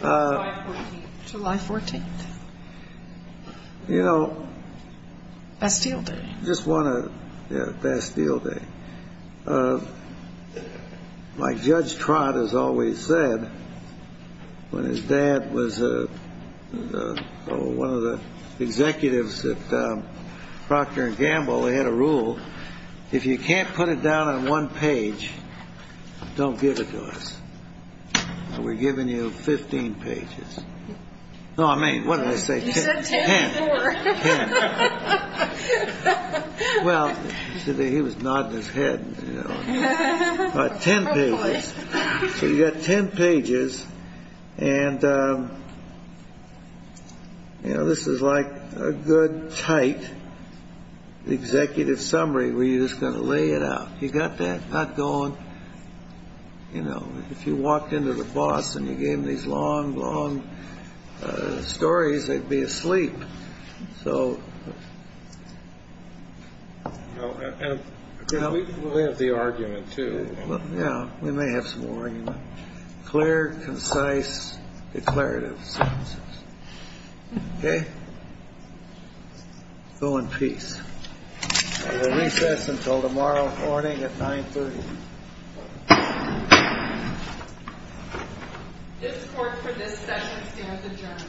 July 14th. July 14th. You know. Bastille Day. Just want to, yeah, Bastille Day. My Judge Trott has always said, when his dad was one of the executives at Procter & Gamble, he had a rule. If you can't put it down on one page, don't give it to us. We're giving you 15 pages. No, I mean, what did I say? Ten. Ten. Ten. Well, he was nodding his head, you know. But ten pages. You got ten pages, and, you know, this is like a good, tight executive summary where you're just going to lay it out. You got that? Not going, you know, if you walked into the boss and you gave him these long, long stories, he'd be asleep. So, you know. We have the argument, too. Yeah, we may have some more. Clear, concise, declarative sentences. Okay? Go in peace. We'll recess until tomorrow morning at 930. This court for this session stands adjourned.